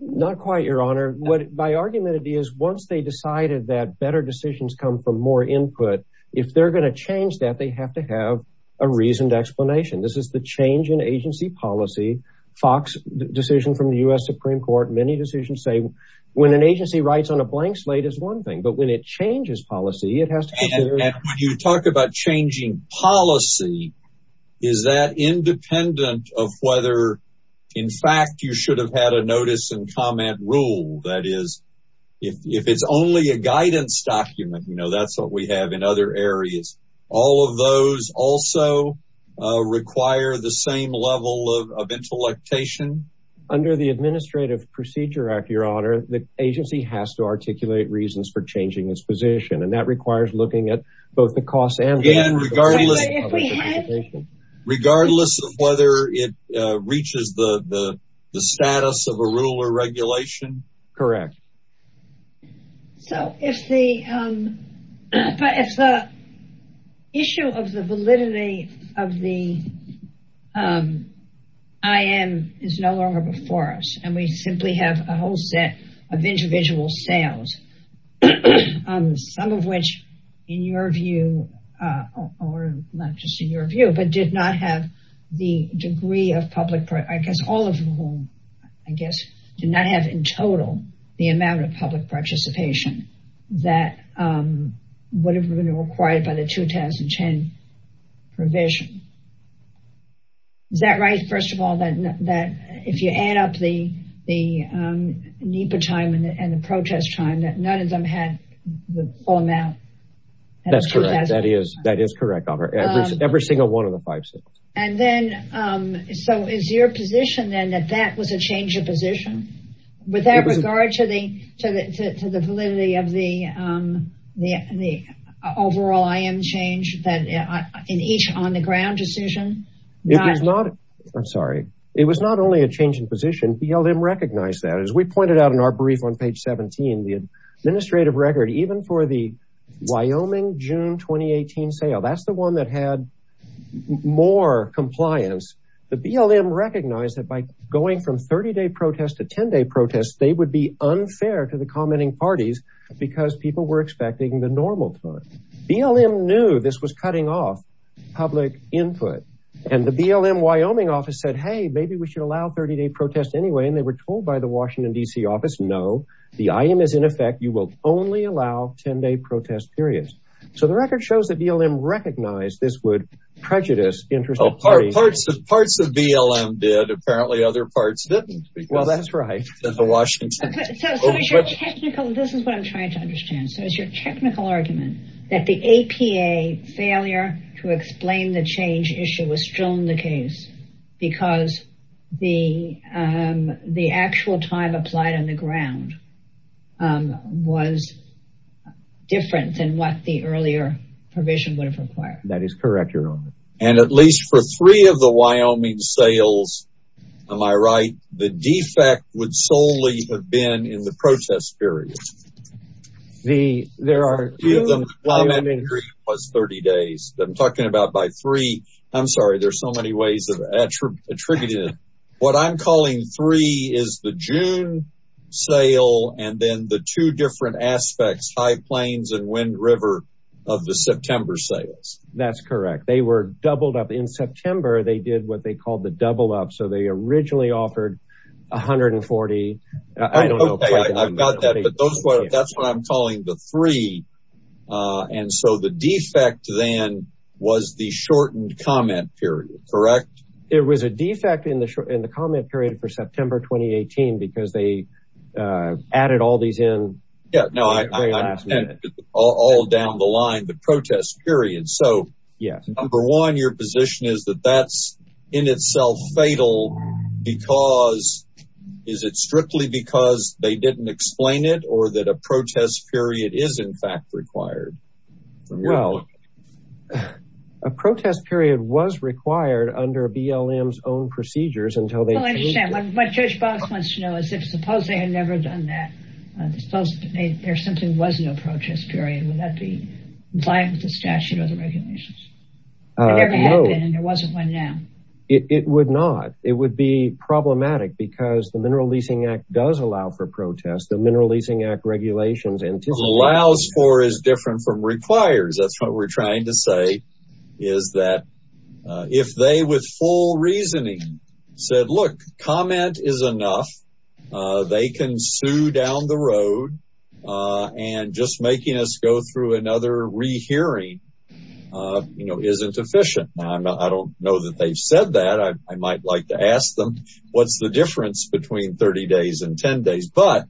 Not quite, Your Honor. What my argument is, once they decided that better decisions come from more input, if they're going to change that, they have to have a reasoned explanation. This is the change in agency policy, Fox decision from the U.S. Supreme Court. Many decisions say when an agency writes on a blank slate is one thing, but when it changes policy, it has to. When you talk about changing policy, is that independent of whether, in fact, you should have had a notice and comment rule? That is, if it's only a guidance document, you know, that's what we have in other areas. All of those also require the same level of intellectuation under the Administrative Procedure Act, Your Honor. The agency has to articulate reasons for changing its position, and that requires looking at both the costs and regardless of whether it reaches the status of a rule or regulation. Correct. So, if the issue of the validity of the IM is no longer before us, and we simply have a whole set of individual sales, some of which, in your view, or not just in your view, but did not have the degree of public, I guess all of whom, I guess, did not have in total the amount of public participation that would have been required by the 2010 provision. Is that right, first of all, that if you add up the NEPA time and the protest time, that none of them had the full amount? That's correct. That is correct. Every single one of the five states. So, is your position then that that was a change of position? With that regard to the validity of the overall IM change in each on-the-ground decision? I'm sorry. It was not only a change in position. BLM recognized that. As we pointed out in our brief on page 17, the administrative record, even for the Wyoming June 2018 sale, that's the one that had more compliance. The BLM recognized that by going from 30-day protest to 10-day protest, they would be unfair to the commenting parties because people were expecting the normal time. BLM knew this was cutting off public input. And the BLM Wyoming office said, hey, maybe we should allow 30-day protest anyway. And they were told by the Washington, D.C. office, no, the item is in effect. You will only allow 10-day protest periods. Parts of BLM did. Apparently, other parts didn't. Well, that's right. This is what I'm trying to understand. So, is your technical argument that the APA failure to explain the change issue was still in the case because the actual time applied on the ground was different than what the earlier provision would have required? That is correct, Your Honor. And at least for three of the Wyoming sales, am I right, the defect would solely have been in the protest period. There are two Wyoming- Three was 30 days. I'm talking about by three. I'm sorry. There's so many ways of attributing it. What I'm calling three is the June sale and then the two different aspects, High Plains and Wind River of the September sales. That's correct. They were doubled up. In September, they did what they called the double up. So, they originally offered 140. I don't know. I've got that. But that's what I'm calling the three. And so, the defect then was the shortened comment period, correct? It was a defect in the comment period for September 2018 because they added all these in at the very last minute. All down the line, the protest period. So, number one, your position is that that's in itself fatal because, is it strictly because they didn't explain it or that a protest period is in fact required? Well, a protest period was required under BLM's own procedures until they- Well, I understand. What Judge Box wants to know is if suppose they had never done that, suppose there simply was no protest period. Would that be in line with the statute or the regulations? It never happened and there wasn't one now. It would not. It would be problematic because the Mineral Leasing Act does allow for protests. The Mineral Leasing Act regulations and- Allows for is different from requires. That's what we're trying to say is that if they with full reasoning said, look, comment is enough, they can sue down the road and just making us go through another rehearing, you know, isn't efficient. I don't know that they've said that. I might like to ask them, what's the difference between 30 days and 10 days? But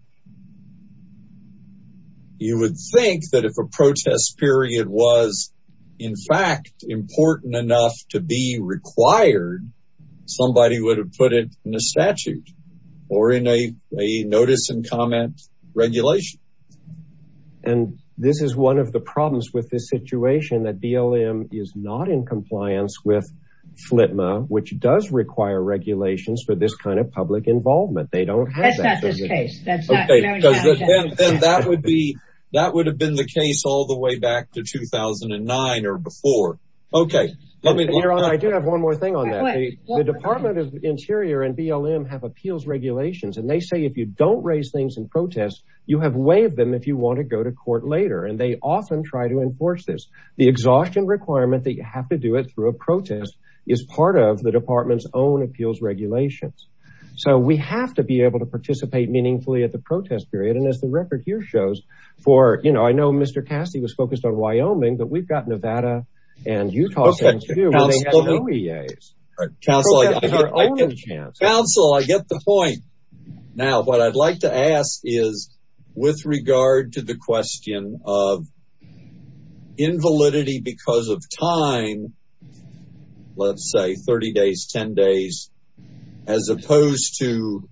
you would think that if a protest period was in fact important enough to be required, somebody would have put it in a statute or in a notice and comment regulation. And this is one of the problems with this situation that BLM is not in compliance with FLTMA, which does require regulations for this kind of public involvement. They don't- That's not this case. That's not- Okay, then that would be, that would have been the case all the way back to 2009 or before. Okay, let me- Your Honor, I do have one more thing on that. The Department of Interior and BLM have appeals regulations. And they say, if you don't raise things in protest, you have waived them if you want to go to court later. And they often try to enforce this. The exhaustion requirement that you have to do it through a protest is part of the department's own appeals regulations. So we have to be able to participate meaningfully at the protest period. And as the record here shows for, you know, I know Mr. Cassidy was focused on Wyoming, but we've got Nevada and Utah- Okay, counsel- And they have no EAs. Counsel, I get the point. Now, what I'd like to ask is with regard to the question of invalidity because of time, let's say 30 days, 10 days, as opposed to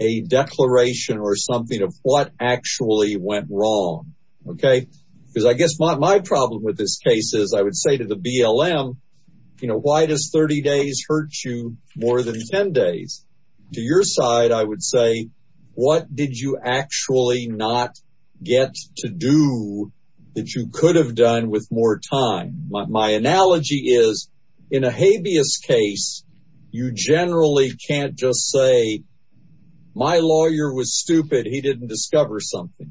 a declaration or something of what actually went wrong, okay? Because I guess my problem with this case is I would say to the BLM, why does 30 days hurt you more than 10 days? To your side, I would say, what did you actually not get to do that you could have done with more time? My analogy is in a habeas case, you generally can't just say, my lawyer was stupid. He didn't discover something.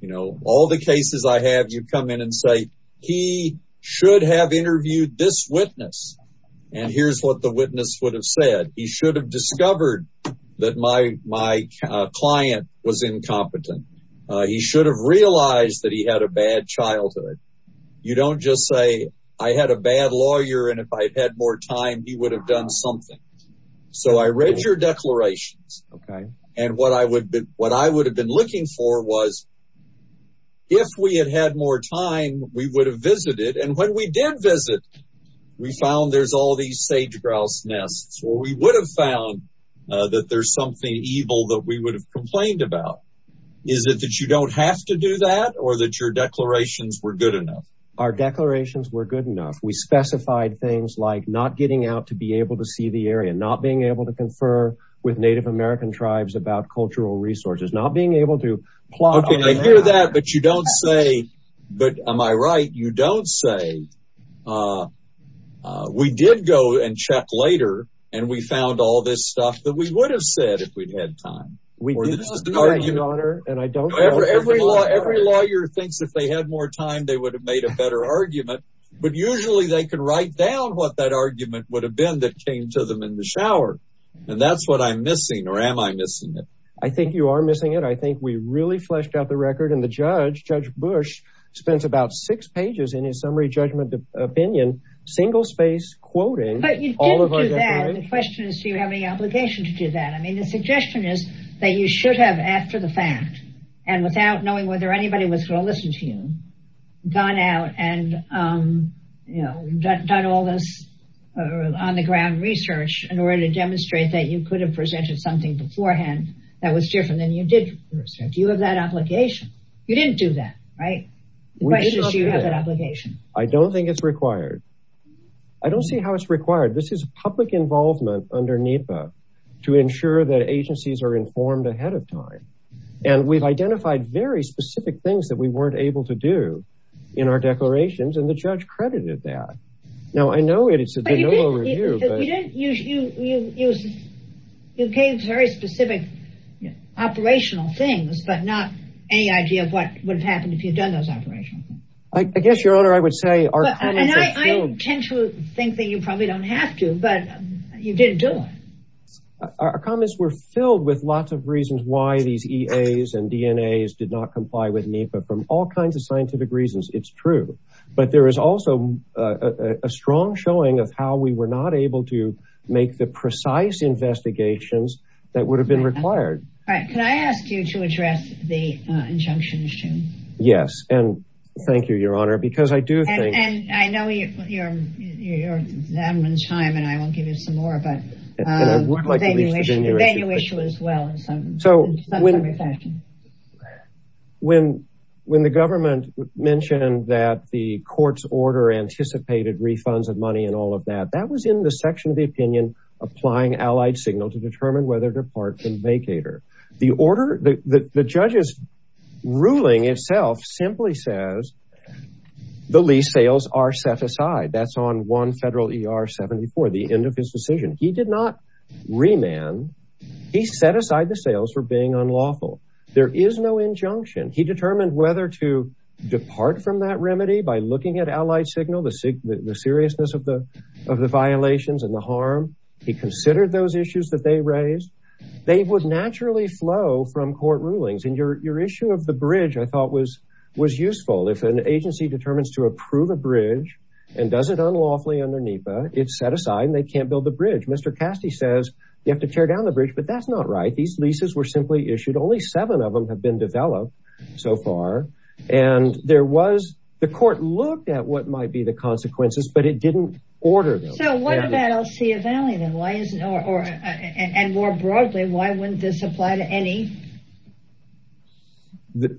You know, all the cases I have, you come in and say, he should have interviewed this witness. And here's what the witness would have said. He should have discovered that my client was incompetent. He should have realized that he had a bad childhood. You don't just say, I had a bad lawyer and if I'd had more time, he would have done something. So I read your declarations. Okay. And what I would have been looking for was, if we had had more time, we would have visited. And when we did visit, we found there's all these sage grouse nests, or we would have found that there's something evil that we would have complained about. Is it that you don't have to do that or that your declarations were good enough? Our declarations were good enough. We specified things like not getting out to be able to see the area, not being able to confer with Native American tribes about cultural resources, not being able to plot. Okay, I hear that. But you don't say, but am I right? You don't say, we did go and check later. And we found all this stuff that we would have said if we'd had time. Every lawyer thinks if they had more time, they would have made a better argument. But usually they can write down what that argument would have been that came to them in the shower. And that's what I'm missing. Or am I missing it? I think you are missing it. I think we really fleshed out the record. And the judge, Judge Bush, spends about six pages in his summary judgment opinion, single-space quoting. But you didn't do that. The question is, do you have any obligation to do that? I mean, the suggestion is that you should have, after the fact, and without knowing whether anybody was going to listen to you, gone out and done all this on the ground research in order to demonstrate that you could have presented something beforehand that was different than you did for research. Do you have that obligation? You didn't do that, right? The question is, do you have that obligation? I don't think it's required. I don't see how it's required. This is public involvement under NEPA to ensure that agencies are informed ahead of time. And we've identified very specific things that we weren't able to do in our declarations. And the judge credited that. Now, I know it's a de novo review, but... You gave very specific operational things, but not any idea of what would have happened if you'd done those operational things. I guess, Your Honor, I would say our comments are filled... I tend to think that you probably don't have to, but you didn't do it. Our comments were filled with lots of reasons why these EAs and DNAs did not comply with NEPA from all kinds of scientific reasons. It's true. But there is also a strong showing of how we were not able to make the precise investigations that would have been required. All right. Can I ask you to address the injunction issue? Yes. And thank you, Your Honor, because I do think... And I know you're out of time, and I won't give you some more, but the venue issue as well in some fashion. When the government mentioned that the court's order anticipated refunds of money and all of that, that was in the section of the opinion applying allied signal to determine whether to depart from vacator. The order... The judge's ruling itself simply says the lease sales are set aside. That's on 1 Federal ER 74, the end of his decision. He did not remand. He set aside the sales for being unlawful. There is no injunction. He determined whether to depart from that remedy by looking at allied signal, the seriousness of the violations and the harm. He considered those issues that they raised. They would naturally flow from court rulings. And your issue of the bridge, I thought, was useful. If an agency determines to approve a bridge and does it unlawfully under NEPA, it's set aside and they can't build the bridge. Mr. Castee says you have to tear down the bridge, but that's not right. These leases were simply issued. Only seven of them have been developed so far. And there was... The court looked at what might be the consequences, but it didn't order them. So what about Alcea Valley? And more broadly, why wouldn't this apply to any?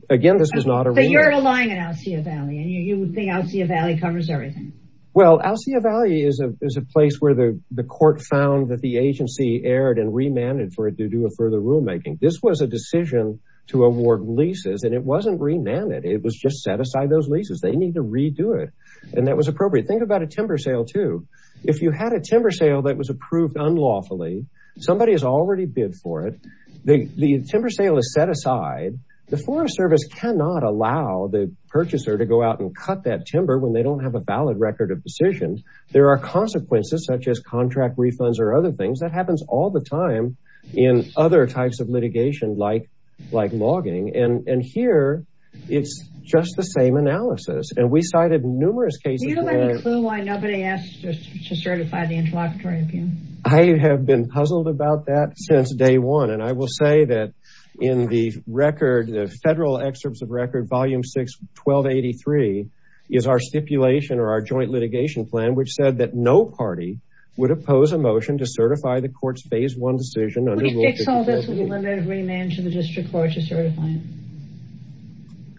Again, this was not a rule. So you're relying on Alcea Valley and you would think Alcea Valley covers everything. Well, Alcea Valley is a place where the court found that the agency erred and remanded for it to do a further rulemaking. This was a decision to award leases and it wasn't remanded. It was just set aside those leases. They need to redo it. And that was appropriate. Think about a timber sale too. If you had a timber sale that was approved unlawfully, somebody has already bid for it. The timber sale is set aside. The Forest Service cannot allow the purchaser to go out and cut that timber when they don't have a valid record of decisions. There are consequences such as contract refunds or other things that happens all the time in other types of litigation like logging. And here, it's just the same analysis. And we cited numerous cases- Do you have any clue why nobody asked to certify the interlocutory appeal? I have been puzzled about that since day one. And I will say that in the record, the federal excerpts of record, volume six, 1283 is our stipulation or our joint litigation plan, which said that no party would oppose a motion to certify the court's phase one decision- Would it fix all this with a limited remand to the district court to certify it?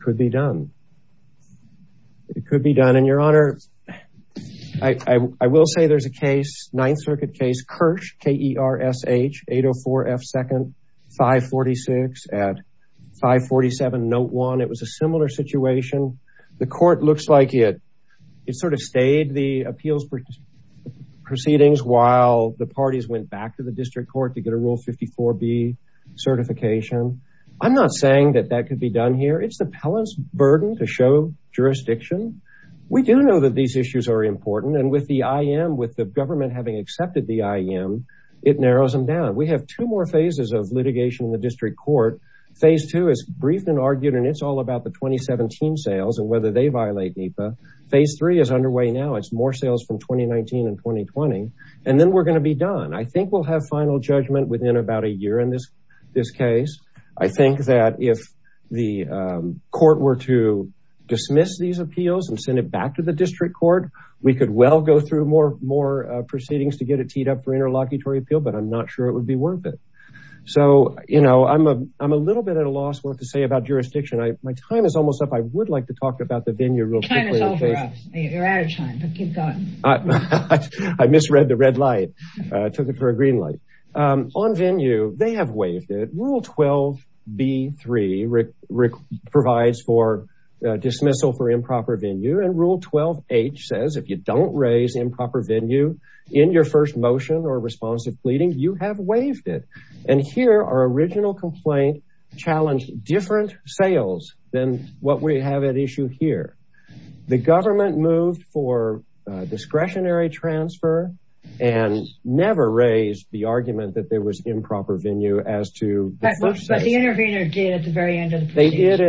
Could be done. It could be done. And Your Honor, I will say there's a case, Ninth Circuit case, Kirsch, K-E-R-S-H, 804F2nd 546 at 547 note one. It was a similar situation. The court looks like it sort of stayed the appeals proceedings while the parties went back to the district court to get a rule 54B certification. I'm not saying that that could be done here. It's the pellant's burden to show jurisdiction. We do know that these issues are important. And with the I.M., with the government having accepted the I.M., it narrows them down. We have two more phases of litigation in the district court. Phase two is briefed and argued, and it's all about the 2017 sales and whether they violate NEPA. Phase three is underway now. It's more sales from 2019 and 2020. And then we're going to be done. I think we'll have final judgment within about a year in this case. I think that if the court were to dismiss these appeals and send it back to the district court, we could well go through more proceedings to get it teed up for interlocutory appeal, but I'm not sure it would be worth it. So, you know, I'm a little bit at a loss what to say about jurisdiction. My time is almost up. I would like to talk about the venue real quickly. You're out of time, but keep going. I misread the red light. I took it for a green light. On venue, they have waived it. Rule 12B3 provides for dismissal for improper venue. And rule 12H says, if you don't raise improper venue in your first motion or responsive pleading, you have waived it. And here, our original complaint challenged different sales than what we have at issue here. The government moved for discretionary transfer and never raised the argument that there was improper venue as to the footnotes. But the intervener did at the very end of the proceedings. They did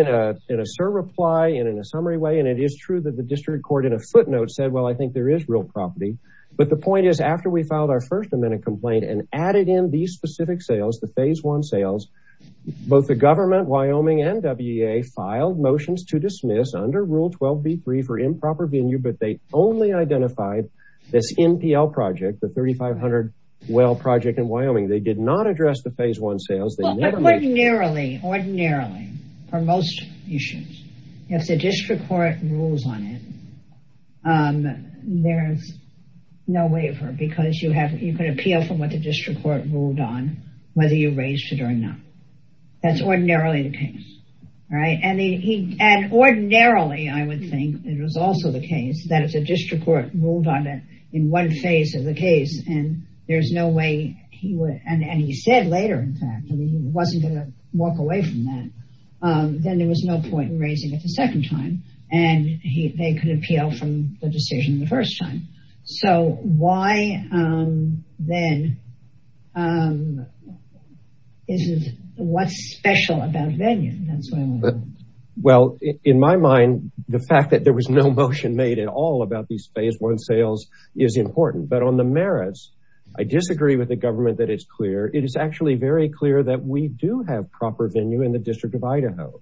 in a surreply and in a summary way. And it is true that the district court in a footnote said, well, I think there is real property. But the point is after we filed our first amendment complaint and added in these specific sales, the phase one sales, both the government, Wyoming and WEA filed motions to dismiss under rule 12B3 for improper venue, but they only identified this NPL project, the 3,500 well project in Wyoming. They did not address the phase one sales. They never mentioned- Ordinarily, ordinarily, for most issues, if the district court rules on it, there's no waiver because you have, you can appeal from what the district court ruled on whether you raised it or not. That's ordinarily the case, right? And ordinarily, I would think it was also the case that if the district court ruled on it in one phase of the case and there's no way he would, and he said later, in fact, I mean, he wasn't gonna walk away from that. Then there was no point in raising it the second time. And they could appeal from the decision the first time. So why then is it, what's special about venue? That's what I wanna know. Well, in my mind, the fact that there was no motion made at all about these phase one sales is important. But on the merits, I disagree with the government that it's clear. It is actually very clear that we do have proper venue in the District of Idaho.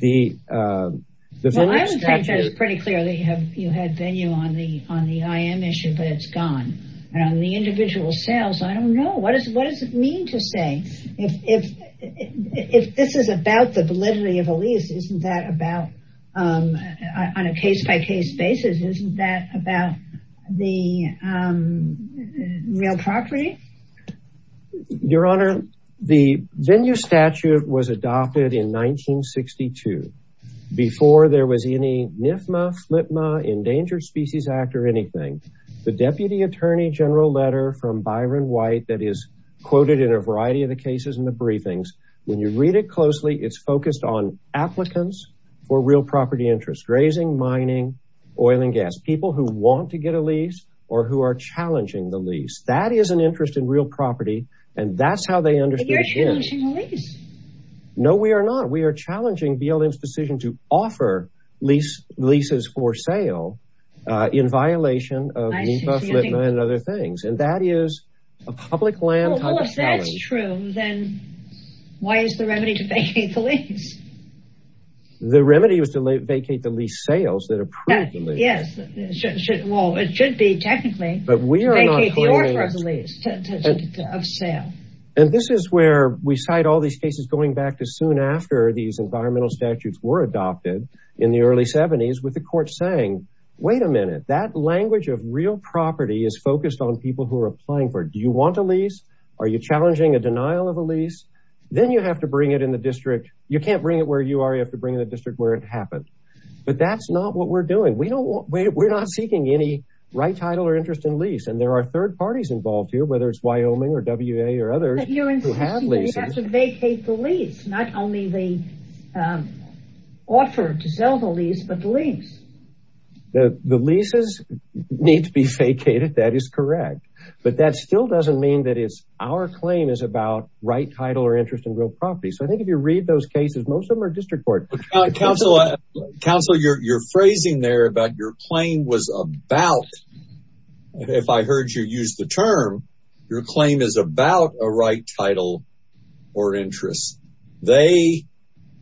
Well, I would think that it's pretty clear that you had venue on the IM issue, but it's gone. And on the individual sales, I don't know. What does it mean to say, if this is about the validity of a lease, isn't that about on a case-by-case basis, isn't that about the real property? Your Honor, the venue statute was adopted in 1962 before there was any NIFMA, FLIPMA, Endangered Species Act or anything. The deputy attorney general letter from Byron White that is quoted in a variety of the cases in the briefings, when you read it closely, it's focused on applicants for real property interests, grazing, mining, oil and gas, people who want to get a lease or who are challenging the lease. That is an interest in real property. And that's how they understood- But you're challenging the lease. No, we are not. We are challenging BLM's decision to offer leases for sale in violation of NIFMA, FLIPMA and other things. And that is a public land- Well, if that's true, then why is the remedy to vacate the lease? The remedy was to vacate the lease sales that approved the lease. Yes. Well, it should be technically- But we are not claiming that. Vacate the order of the lease of sale. And this is where we cite all these cases going back to soon after these environmental statutes were adopted in the early 70s with the court saying, wait a minute, that language of real property is focused on people who are applying for it. Do you want a lease? Are you challenging a denial of a lease? Then you have to bring it in the district. You can't bring it where you are. You have to bring it in the district where it happened. But that's not what we're doing. We don't want, we're not seeking any right title or interest in lease. And there are third parties involved here, whether it's Wyoming or WA or others- But you're insisting that we have to vacate the lease, not only the offer to sell the lease, but the lease. The leases need to be vacated. That is correct. But that still doesn't mean that it's our claim is about right title or interest in real property. So I think if you read those cases, most of them are district court. Counselor, you're phrasing there about your claim was about, if I heard you use the term, your claim is about a right title or interest. They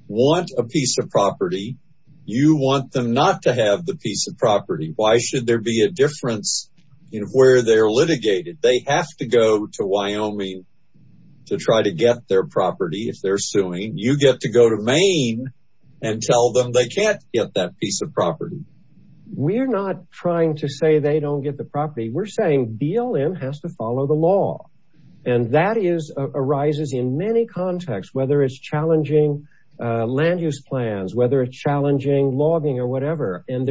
want a piece of property. You want them not to have the piece of property. Why should there be a difference in where they're litigated? They have to go to Wyoming to try to get their property. If they're suing, you get to go to Maine and tell them they can't get that piece of property. We're not trying to say they don't get the property. We're saying BLM has to follow the law. And that arises in many contexts, whether it's challenging land use plans, whether it's challenging logging or whatever. And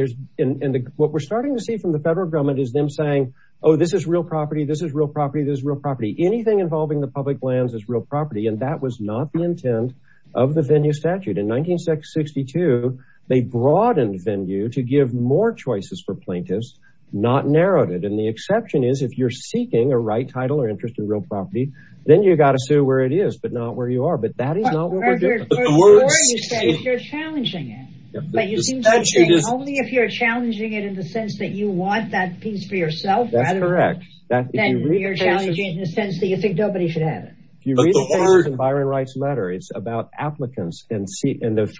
what we're starting to see from the federal government is them saying, oh, this is real property. This is real property. This is real property. Anything involving the public lands is real property. And that was not the intent of the venue statute. In 1962, they broadened venue to give more choices for plaintiffs, not narrowed it. And the exception is if you're seeking a right title or interest in real property, then you got to sue where it is, but not where you are. But that is not what we're doing. Or you said you're challenging it. But you seem to be saying only if you're challenging it in the sense that you want that piece for yourself. That's correct. Then you're challenging it in the sense that you think nobody should have it. If you read the case in Byron Wright's letter, it's about applicants and the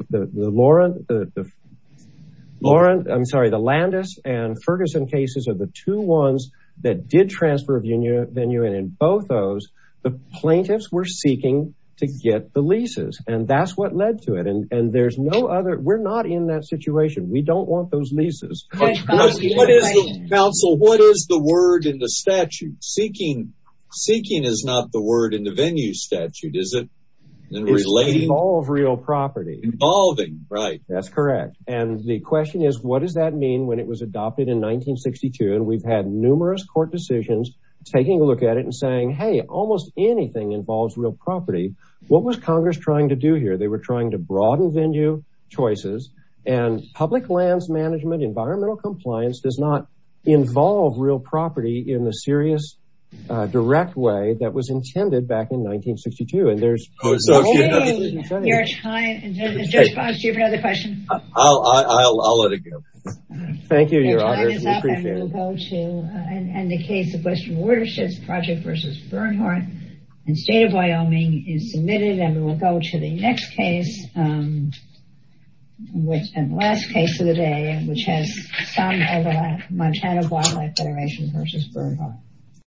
Laurent, I'm sorry, the Landis and Ferguson cases are the two ones that did transfer venue. And in both those, the plaintiffs were seeking to get the leases. And that's what led to it. And there's no other, we're not in that situation. We don't want those leases. Counsel, what is the word in the statute? Seeking is not the word in the venue statute, is it? It's to involve real property. Involving, right. That's correct. And the question is, what does that mean when it was adopted in 1962? And we've had numerous court decisions taking a look at it and saying, hey, almost anything involves real property. What was Congress trying to do here? They were trying to broaden venue choices and public lands management, environmental compliance does not involve real property in the serious direct way that was intended back in 1962. And there's no other thing. Your time has just passed. Do you have another question? I'll let it go. Thank you, your honor. Your time is up and we'll go to, and the case of Western Watersheds Project versus Bernhardt and State of Wyoming is submitted and we'll go to the next case, and the last case of the day, which has some overlap, Montana Wildlife Federation versus Bernhardt.